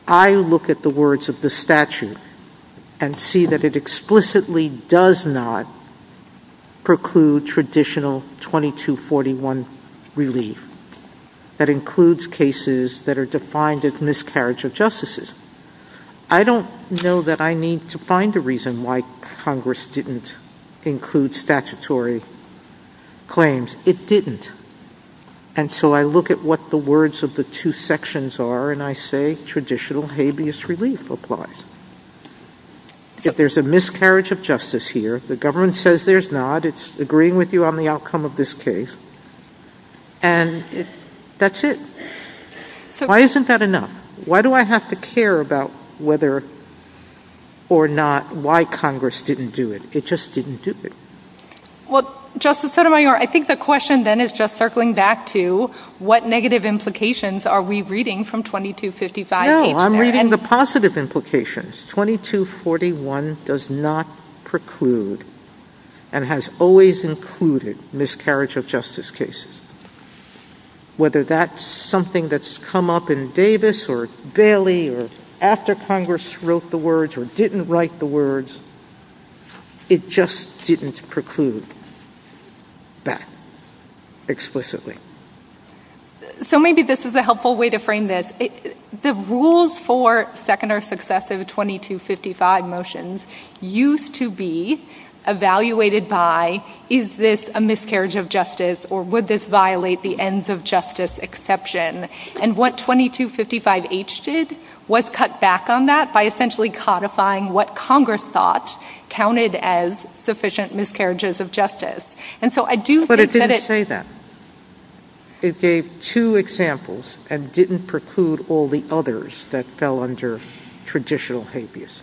I look at the words of the statute and see that it explicitly does not preclude traditional 2241 relief. That includes cases that are defined as miscarriage of justice. I don't know that I need to find a reason why Congress didn't include statutory claims. It didn't. And so I look at what the words of the two sections are and I say traditional habeas relief applies. If there's a miscarriage of justice here, the government says there's not, it's agreeing with you on the outcome of this case, and that's it. Why isn't that enough? Why do I have to care about whether or not, why Congress didn't do it? It just didn't do it. Well, Justice Sotomayor, I think the question then is just circling back to what negative implications are we reading from 2255? No, I'm reading the positive implications. 2241 does not preclude and has always included miscarriage of justice cases. Whether that's something that's come up in Davis or Daly or after Congress wrote the words or didn't write the words, it just didn't preclude that explicitly. So maybe this is a helpful way to frame this. The rules for second or successive 2255 motions used to be evaluated by is this a miscarriage of justice or would this violate the ends of justice exception? And what 2255H did was cut back on that by essentially codifying what Congress thought counted as sufficient miscarriages of justice. But it didn't say that. It gave two examples and didn't preclude all the others that fell under traditional habeas.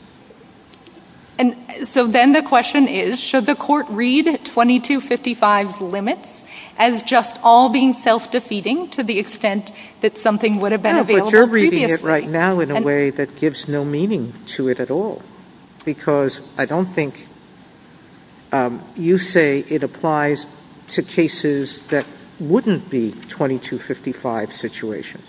And so then the question is, should the court read 2255's limits as just all being self-defeating to the extent that something would have been available previously? No, but you're reading it right now in a way that gives no meaning to it at all. Because I don't think you say it applies to cases that wouldn't be 2255 situations.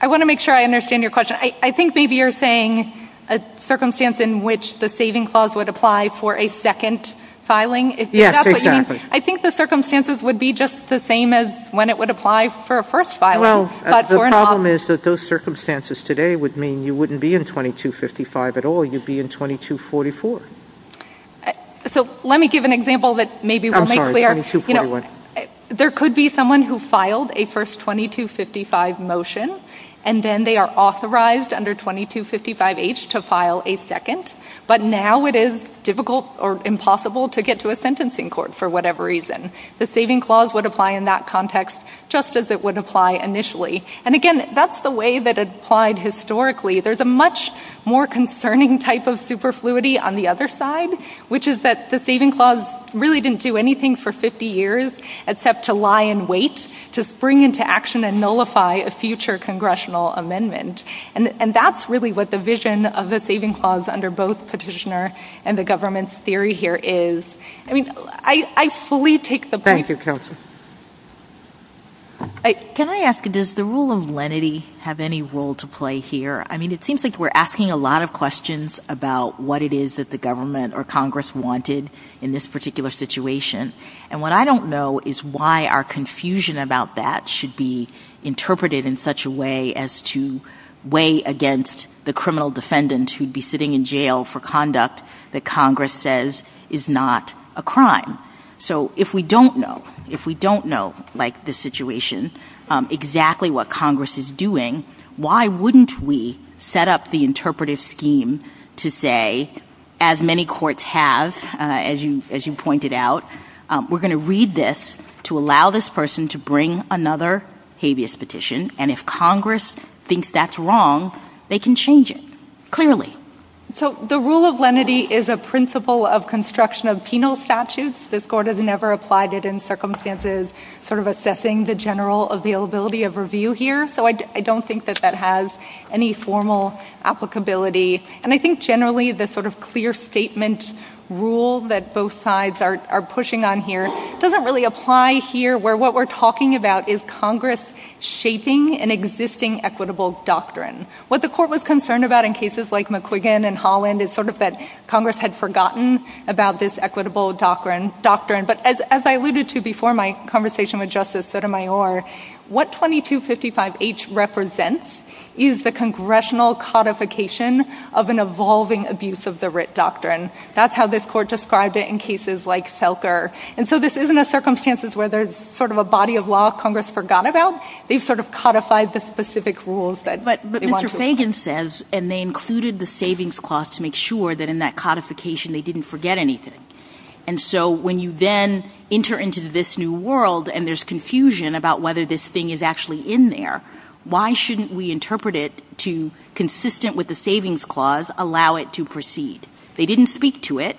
I want to make sure I understand your question. I think maybe you're saying a circumstance in which the saving clause would apply for a second filing. Yes, exactly. I think the circumstances would be just the same as when it would apply for a first filing. Well, the problem is that those circumstances today would mean you wouldn't be in 2255 at all. You'd be in 2244. So let me give an example that maybe we'll make clear. There could be someone who filed a first 2255 motion and then they are authorized under 2255H to file a second. But now it is difficult or impossible to get to a sentencing court for whatever reason. The saving clause would apply in that context just as it would apply initially. And again, that's the way that it applied historically. There's a much more concerning type of superfluity on the other side, which is that the saving clause really didn't do anything for 50 years except to lie in wait, to spring into action and nullify a future congressional amendment. And that's really what the vision of the saving clause under both petitioner and the government's theory here is. I mean, I fully take the point. Thank you, Counselor. Can I ask, does the rule of lenity have any role to play here? I mean, it seems like we're asking a lot of questions about what it is that the government or Congress wanted in this particular situation. And what I don't know is why our confusion about that should be interpreted in such a way as to weigh against the criminal defendant who'd be sitting in jail for conduct that Congress says is not a crime. So if we don't know, if we don't know, like this situation, exactly what Congress is doing, why wouldn't we set up the interpretive scheme to say, as many courts have, as you pointed out, we're going to read this to allow this person to bring another habeas petition. And if Congress thinks that's wrong, they can change it. Clearly. So the rule of lenity is a principle of construction of penal statutes. The court has never applied it in circumstances sort of assessing the general availability of review here. So I don't think that that has any formal applicability. And I think generally the sort of clear statement rule that both sides are pushing on here doesn't really apply here where what we're talking about is Congress shaping an existing equitable doctrine. What the court was concerned about in cases like McQuiggan and Holland is sort of that Congress had forgotten about this equitable doctrine. But as I alluded to before my conversation with Justice Sotomayor, what 2255H represents is the congressional codification of an evolving abuse of the writ doctrine. That's how this court described it in cases like Selker. And so this isn't a circumstances where there's sort of a body of law Congress forgot about. They've sort of codified the specific rules. But Mr. Fagan says, and they included the savings clause to make sure that in that codification they didn't forget anything. And so when you then enter into this new world and there's confusion about whether this thing is actually in there, why shouldn't we interpret it to consistent with the savings clause, allow it to proceed? They didn't speak to it,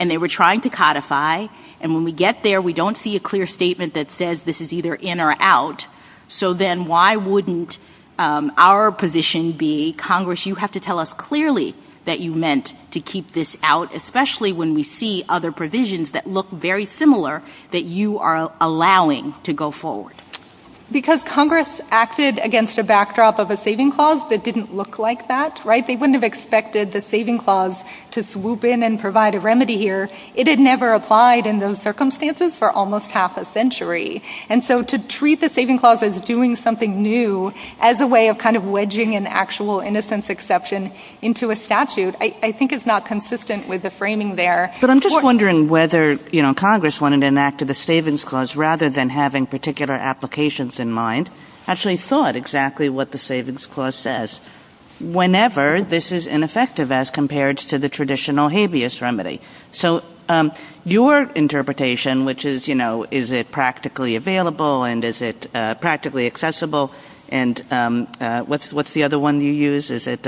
and they were trying to codify. And when we get there, we don't see a clear statement that says this is either in or out. So then why wouldn't our position be, Congress, you have to tell us clearly that you meant to keep this out, especially when we see other provisions that look very similar that you are allowing to go forward? Because Congress acted against a backdrop of a saving clause that didn't look like that, right? They wouldn't have expected the saving clause to swoop in and provide a remedy here. It had never applied in those circumstances for almost half a century. And so to treat the saving clause as doing something new as a way of kind of wedging an actual innocence exception into a statute, I think is not consistent with the framing there. But I'm just wondering whether, you know, Congress wanted to enact the savings clause rather than having particular applications in mind, actually thought exactly what the savings clause says. Whenever this is ineffective as compared to the traditional habeas remedy. So your interpretation, which is, you know, is it practically available and is it practically accessible? And what's the other one you use? Is it...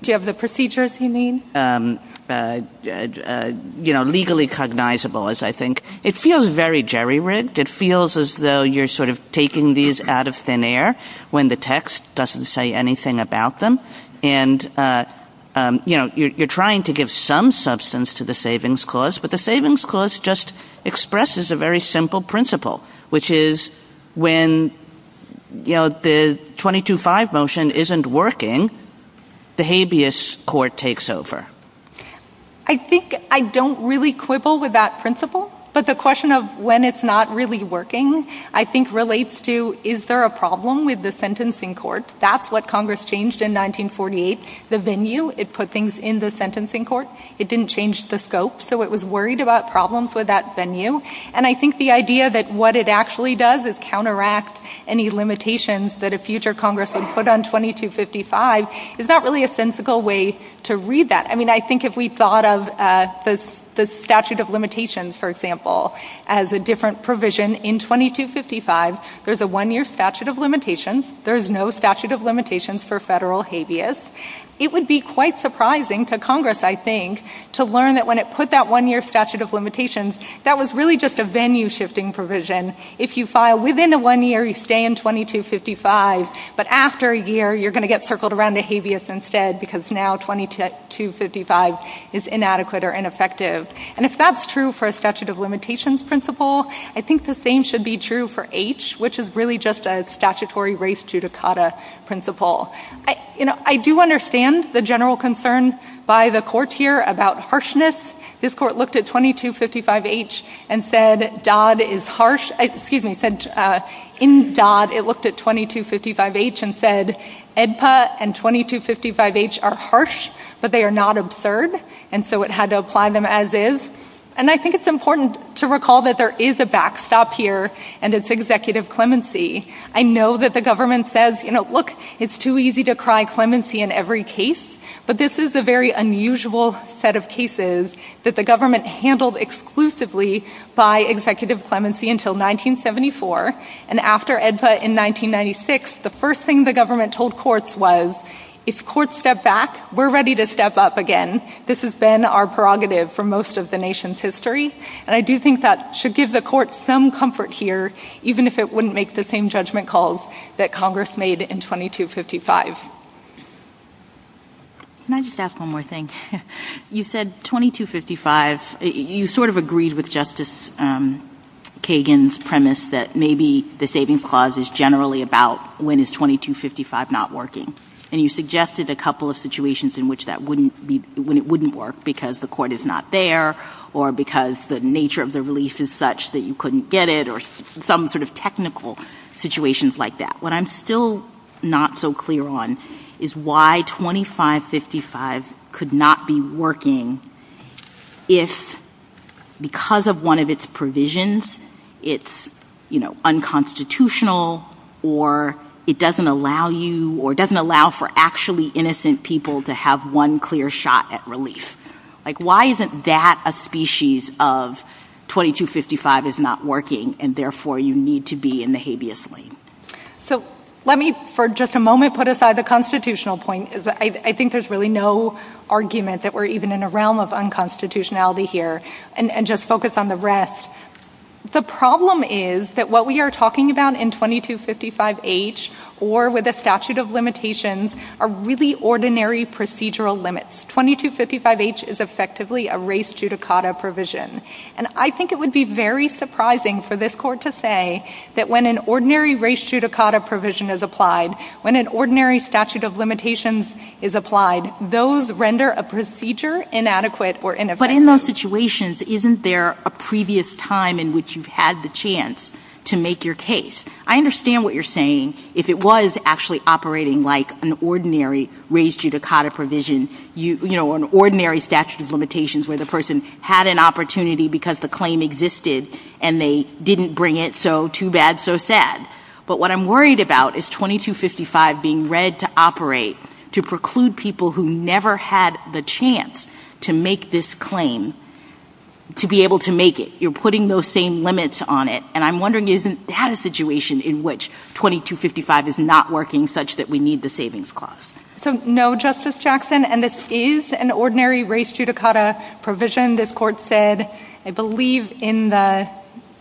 Do you have the procedures you need? You know, legally cognizable, as I think. It feels very jerry-rigged. It feels as though you're sort of taking these out of thin air when the text doesn't say anything about them. And, you know, you're trying to give some substance to the savings clause, but the savings clause just expresses a very simple principle, which is when, you know, the 22-5 motion isn't working, the habeas court takes over. I think I don't really quibble with that principle. But the question of when it's not really working, I think, relates to is there a problem with the sentencing court? That's what Congress changed in 1948. The venue, it put things in the sentencing court. It didn't change the scope. So it was worried about problems with that venue. And I think the idea that what it actually does is counteract any limitations that a future Congress would put on 22-55 is not really a sensical way to read that. I mean, I think if we thought of the statute of limitations, for example, as a different provision in 22-55, there's a one-year statute of limitations. There's no statute of limitations for federal habeas. It would be quite surprising to Congress, I think, to learn that when it put that one-year statute of limitations, that was really just a venue-shifting provision. If you file within a one-year, you stay in 22-55. But after a year, you're going to get circled around a habeas instead because now 22-55 is inadequate or ineffective. And if that's true for a statute of limitations principle, I think the same should be true for H, which is really just a statutory race judicata principle. I do understand the general concern by the court here about harshness. This court looked at 22-55H and said, in Dodd, it looked at 22-55H and said, EDPA and 22-55H are harsh, but they are not absurd, and so it had to apply them as is. And I think it's important to recall that there is a backstop here, and it's executive clemency. I know that the government says, you know, look, it's too easy to cry clemency in every case, but this is a very unusual set of cases that the government handled exclusively by executive clemency until 1974. And after EDPA in 1996, the first thing the government told courts was, if courts step back, we're ready to step up again. This has been our prerogative for most of the nation's history, and I do think that should give the court some comfort here, even if it wouldn't make the same judgment calls that Congress made in 22-55. Can I just ask one more thing? You said 22-55. You sort of agreed with Justice Kagan's premise that maybe the savings clause is generally about when is 22-55 not working, and you suggested a couple of situations in which that wouldn't work, because the court is not there or because the nature of the release is such that you couldn't get it or some sort of technical situations like that. What I'm still not so clear on is why 25-55 could not be working if, because of one of its provisions, it's, you know, unconstitutional or it doesn't allow you to have one clear shot at relief. Like, why isn't that a species of 22-55 is not working, and therefore you need to be in the habeas lane? So let me for just a moment put aside the constitutional point. I think there's really no argument that we're even in a realm of unconstitutionality here, and just focus on the rest. The problem is that what we are talking about in 22-55H or with a statute of limitations are really ordinary procedural limits. 22-55H is effectively a race judicata provision, and I think it would be very surprising for this court to say that when an ordinary race judicata provision is applied, when an ordinary statute of limitations is applied, those render a procedure inadequate or ineffective. But in those situations, isn't there a previous time in which you've had the chance to make your case? I understand what you're saying. If it was actually operating like an ordinary race judicata provision, you know, an ordinary statute of limitations where the person had an opportunity because the claim existed and they didn't bring it, so too bad, so sad. But what I'm worried about is 22-55 being read to operate, to preclude people who never had the chance to make this claim to be able to make it. You're putting those same limits on it, and I'm wondering if you've had a situation in which 22-55 is not working such that we need the savings cost. No, Justice Jackson, and this is an ordinary race judicata provision. This court said, I believe, in the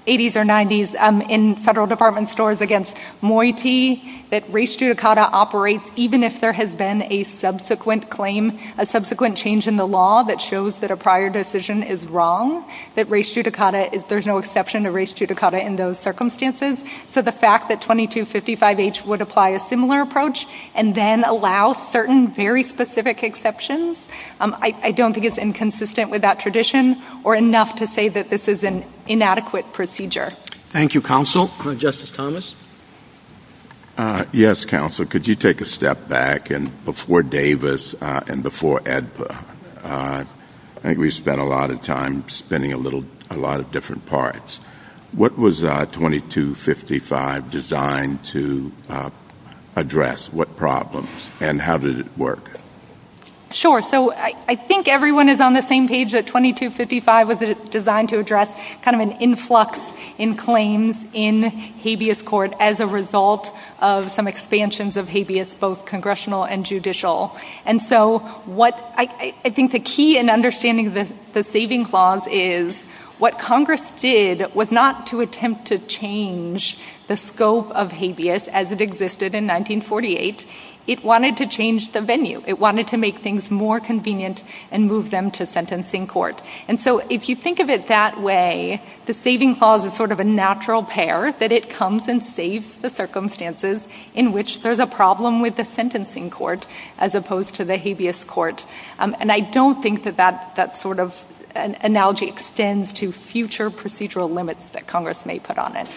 80s or 90s in federal department stores against Moiti, that race judicata operates even if there has been a subsequent claim, a subsequent change in the law that shows that a prior decision is wrong, that race judicata, there's no exception to race judicata in those circumstances. So the fact that 22-55H would apply a similar approach and then allow certain very specific exceptions, I don't think it's inconsistent with that tradition or enough to say that this is an inadequate procedure. Thank you, counsel. Justice Thomas? Yes, counsel. Could you take a step back? Before Davis and before AEDPA, I think we spent a lot of time spinning a lot of different parts. What was 22-55 designed to address? What problems? And how did it work? Sure. So I think everyone is on the same page that 22-55 was designed to address kind of an influx in claims in habeas court as a result of some expansions of habeas, both congressional and judicial. And so what I think the key in understanding the saving clause is, what Congress did was not to attempt to change the scope of habeas as it existed in 1948. It wanted to change the venue. It wanted to make things more convenient and move them to sentencing court. And so if you think of it that way, the saving clause is sort of a natural pair, that it comes and saves the circumstances in which there's a problem with the sentencing court as opposed to the habeas court. And I don't think that that sort of analogy extends to future procedural limits that Congress may put on it.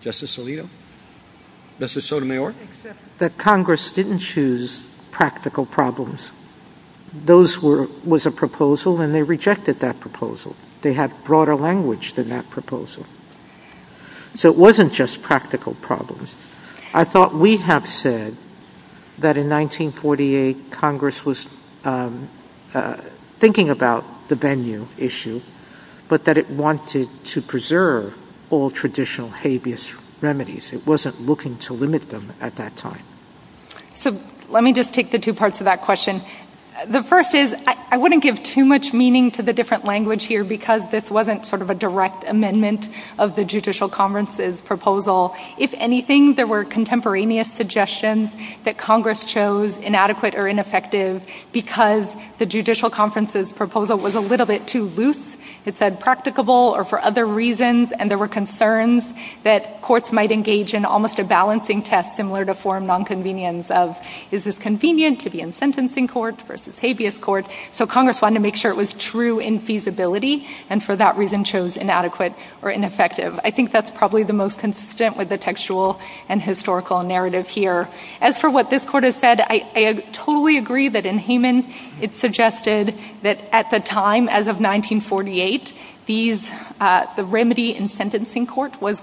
Justice Alito? Justice Sotomayor? That Congress didn't choose practical problems. Those were a proposal, and they rejected that proposal. They had broader language than that proposal. So it wasn't just practical problems. I thought we have said that in 1948, Congress was thinking about the venue issue, but that it wanted to preserve all traditional habeas remedies. It wasn't looking to limit them at that time. So let me just take the two parts of that question. The first is I wouldn't give too much meaning to the different language here because this wasn't sort of a direct amendment of the Judicial Conference's proposal. If anything, there were contemporaneous suggestions that Congress chose inadequate or ineffective because the Judicial Conference's proposal was a little bit too loose. It said practicable or for other reasons, and there were concerns that courts might engage in almost a balancing test similar to foreign nonconvenience of, is this convenient to be in sentencing courts versus habeas courts? So Congress wanted to make sure it was true in feasibility, and for that reason chose inadequate or ineffective. I think that's probably the most consistent with the textual and historical narrative here. As for what this Court has said, I totally agree that in Hayman it suggested that at the time, as of 1948, the remedy in sentencing court was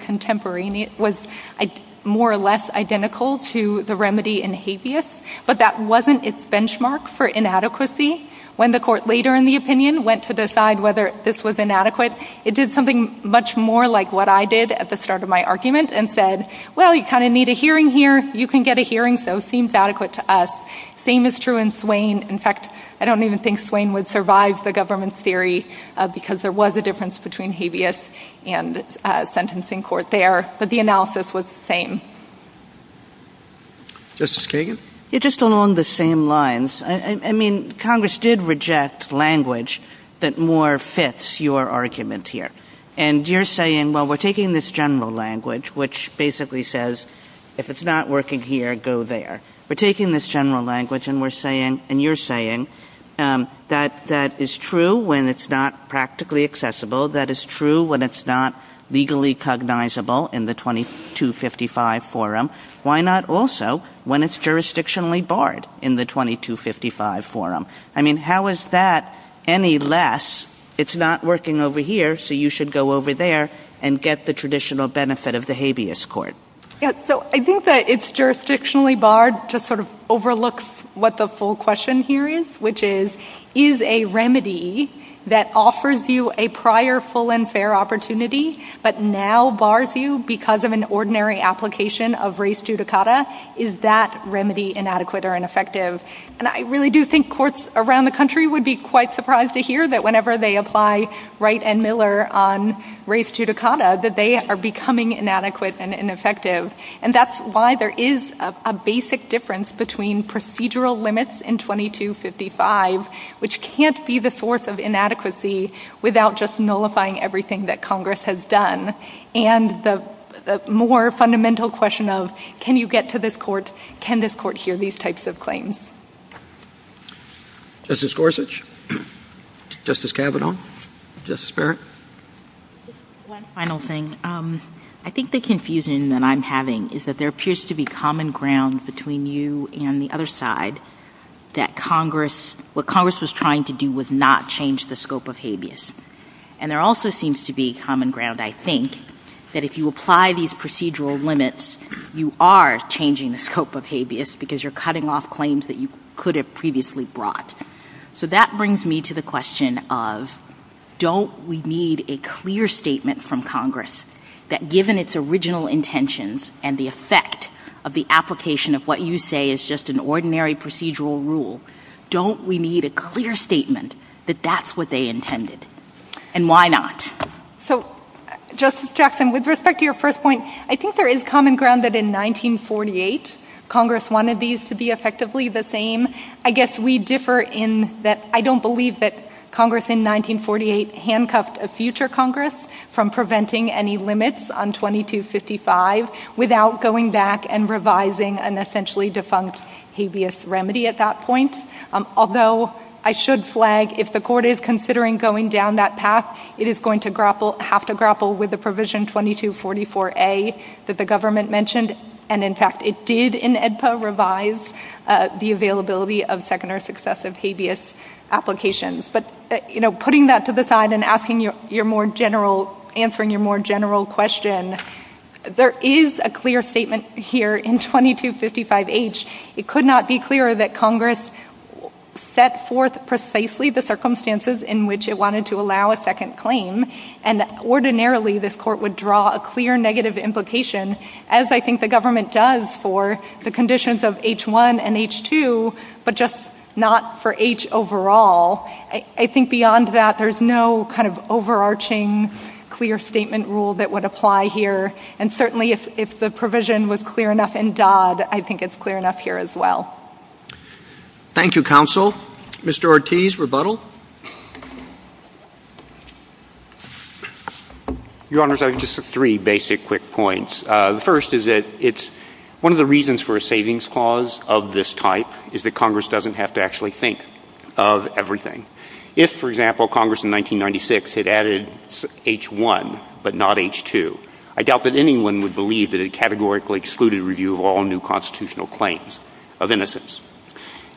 more or less identical to the remedy in habeas, but that wasn't its benchmark for inadequacy. When the Court later in the opinion went to decide whether this was inadequate, it did something much more like what I did at the start of my argument and said, well, you kind of need a hearing here, you can get a hearing, so it seems adequate to us. Same is true in Swain. In fact, I don't even think Swain would survive the government's theory because there was a difference between habeas and sentencing court there, but the analysis was the same. Justice Kagan? Just along the same lines. I mean, Congress did reject language that more fits your argument here, and you're saying, well, we're taking this general language, which basically says if it's not working here, go there. We're taking this general language and we're saying, and you're saying, that that is true when it's not practically accessible, that is true when it's not legally cognizable in the 2255 forum. Why not also when it's jurisdictionally barred in the 2255 forum? I mean, how is that any less, it's not working over here, so you should go over there and get the traditional benefit of the habeas court? So I think that it's jurisdictionally barred to sort of overlook what the full question here is, which is, is a remedy that offers you a prior full and fair opportunity, but now bars you because of an ordinary application of res judicata, is that remedy inadequate or ineffective? And I really do think courts around the country would be quite surprised to hear that whenever they apply Wright and Miller on res judicata, that they are becoming inadequate and ineffective, and that's why there is a basic difference between procedural limits in 2255, which can't be the source of inadequacy without just nullifying everything that Congress has done, and the more fundamental question of, can you get to this court, can this court hear these types of claims? Justice Gorsuch? Justice Kavanaugh? Justice Barrett? One final thing. I think the confusion that I'm having is that there appears to be common ground between you and the other side that what Congress was trying to do was not change the scope of habeas, and there also seems to be common ground, I think, that if you apply these procedural limits, you are changing the scope of habeas because you're cutting off claims that you could have previously brought. So that brings me to the question of, don't we need a clear statement from Congress that given its original intentions and the effect of the application of what you say is just an ordinary procedural rule, don't we need a clear statement that that's what they intended? And why not? So, Justice Jackson, with respect to your first point, I think there is common ground that in 1948, Congress wanted these to be effectively the same. I guess we differ in that I don't believe that Congress in 1948 handcuffed a future Congress from preventing any limits on 2255 without going back and revising an essentially defunct habeas remedy at that point, although I should flag, if the court is considering going down that path, it is going to have to grapple with the provision 2244A that the government mentioned, and in fact it did in AEDPA revise the availability of second or successive habeas applications. But putting that to the side and answering your more general question, there is a clear statement here in 2255H. It could not be clearer that Congress set forth precisely the circumstances in which it wanted to allow a second claim, and that ordinarily this court would draw a clear negative implication, as I think the government does for the conditions of H1 and H2, but just not for H overall. I think beyond that there is no kind of overarching clear statement rule that would apply here, and certainly if the provision was clear enough in Dodd, I think it's clear enough here as well. Thank you, Counsel. Mr. Ortiz, rebuttal? Your Honors, I have just three basic quick points. The first is that one of the reasons for a savings clause of this type is that Congress doesn't have to actually think of everything. If, for example, Congress in 1996 had added H1 but not H2, I doubt that anyone would believe that it categorically excluded review of all new constitutional claims of innocence.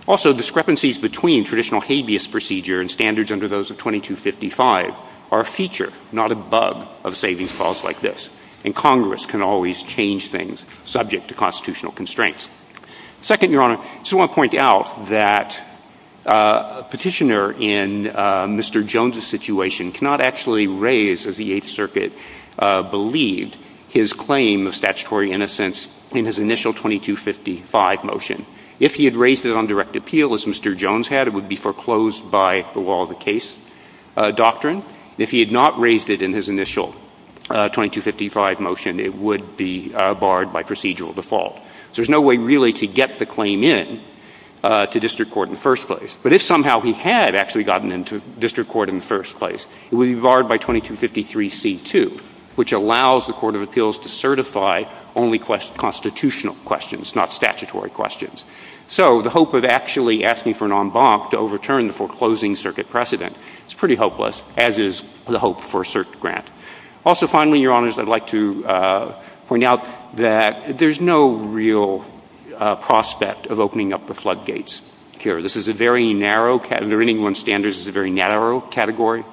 Also, discrepancies between traditional habeas procedure and standards under those of 2255 are a feature, not a bug, of savings clause like this, and Congress can always change things subject to constitutional constraints. Second, Your Honor, I just want to point out that a petitioner in Mr. Jones' situation cannot actually raise, as the Eighth Circuit believed, his claim of statutory innocence in his initial 2255 motion. If he had raised it on direct appeal, as Mr. Jones had, it would be foreclosed by the law of the case doctrine. If he had not raised it in his initial 2255 motion, it would be barred by procedural default. So there's no way really to get the claim in to district court in the first place. But if somehow he had actually gotten into district court in the first place, it would be barred by 2253C2, which allows the Court of Appeals to certify only constitutional questions, not statutory questions. So the hope of actually asking for an en banc to overturn the foreclosing circuit precedent is pretty hopeless, as is the hope for a cert grant. Also, finally, Your Honors, I'd like to point out that there's no real prospect of opening up the floodgates here. This is a very narrow category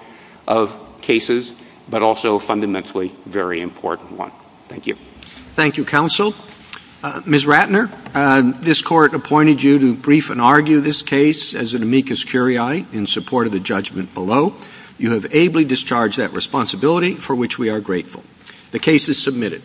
of cases, but also a fundamentally very important one. Thank you. Thank you, Counsel. Ms. Ratner, this Court appointed you to brief and argue this case as an amicus curiae in support of the judgment below. You have ably discharged that responsibility, for which we are grateful. The case is submitted.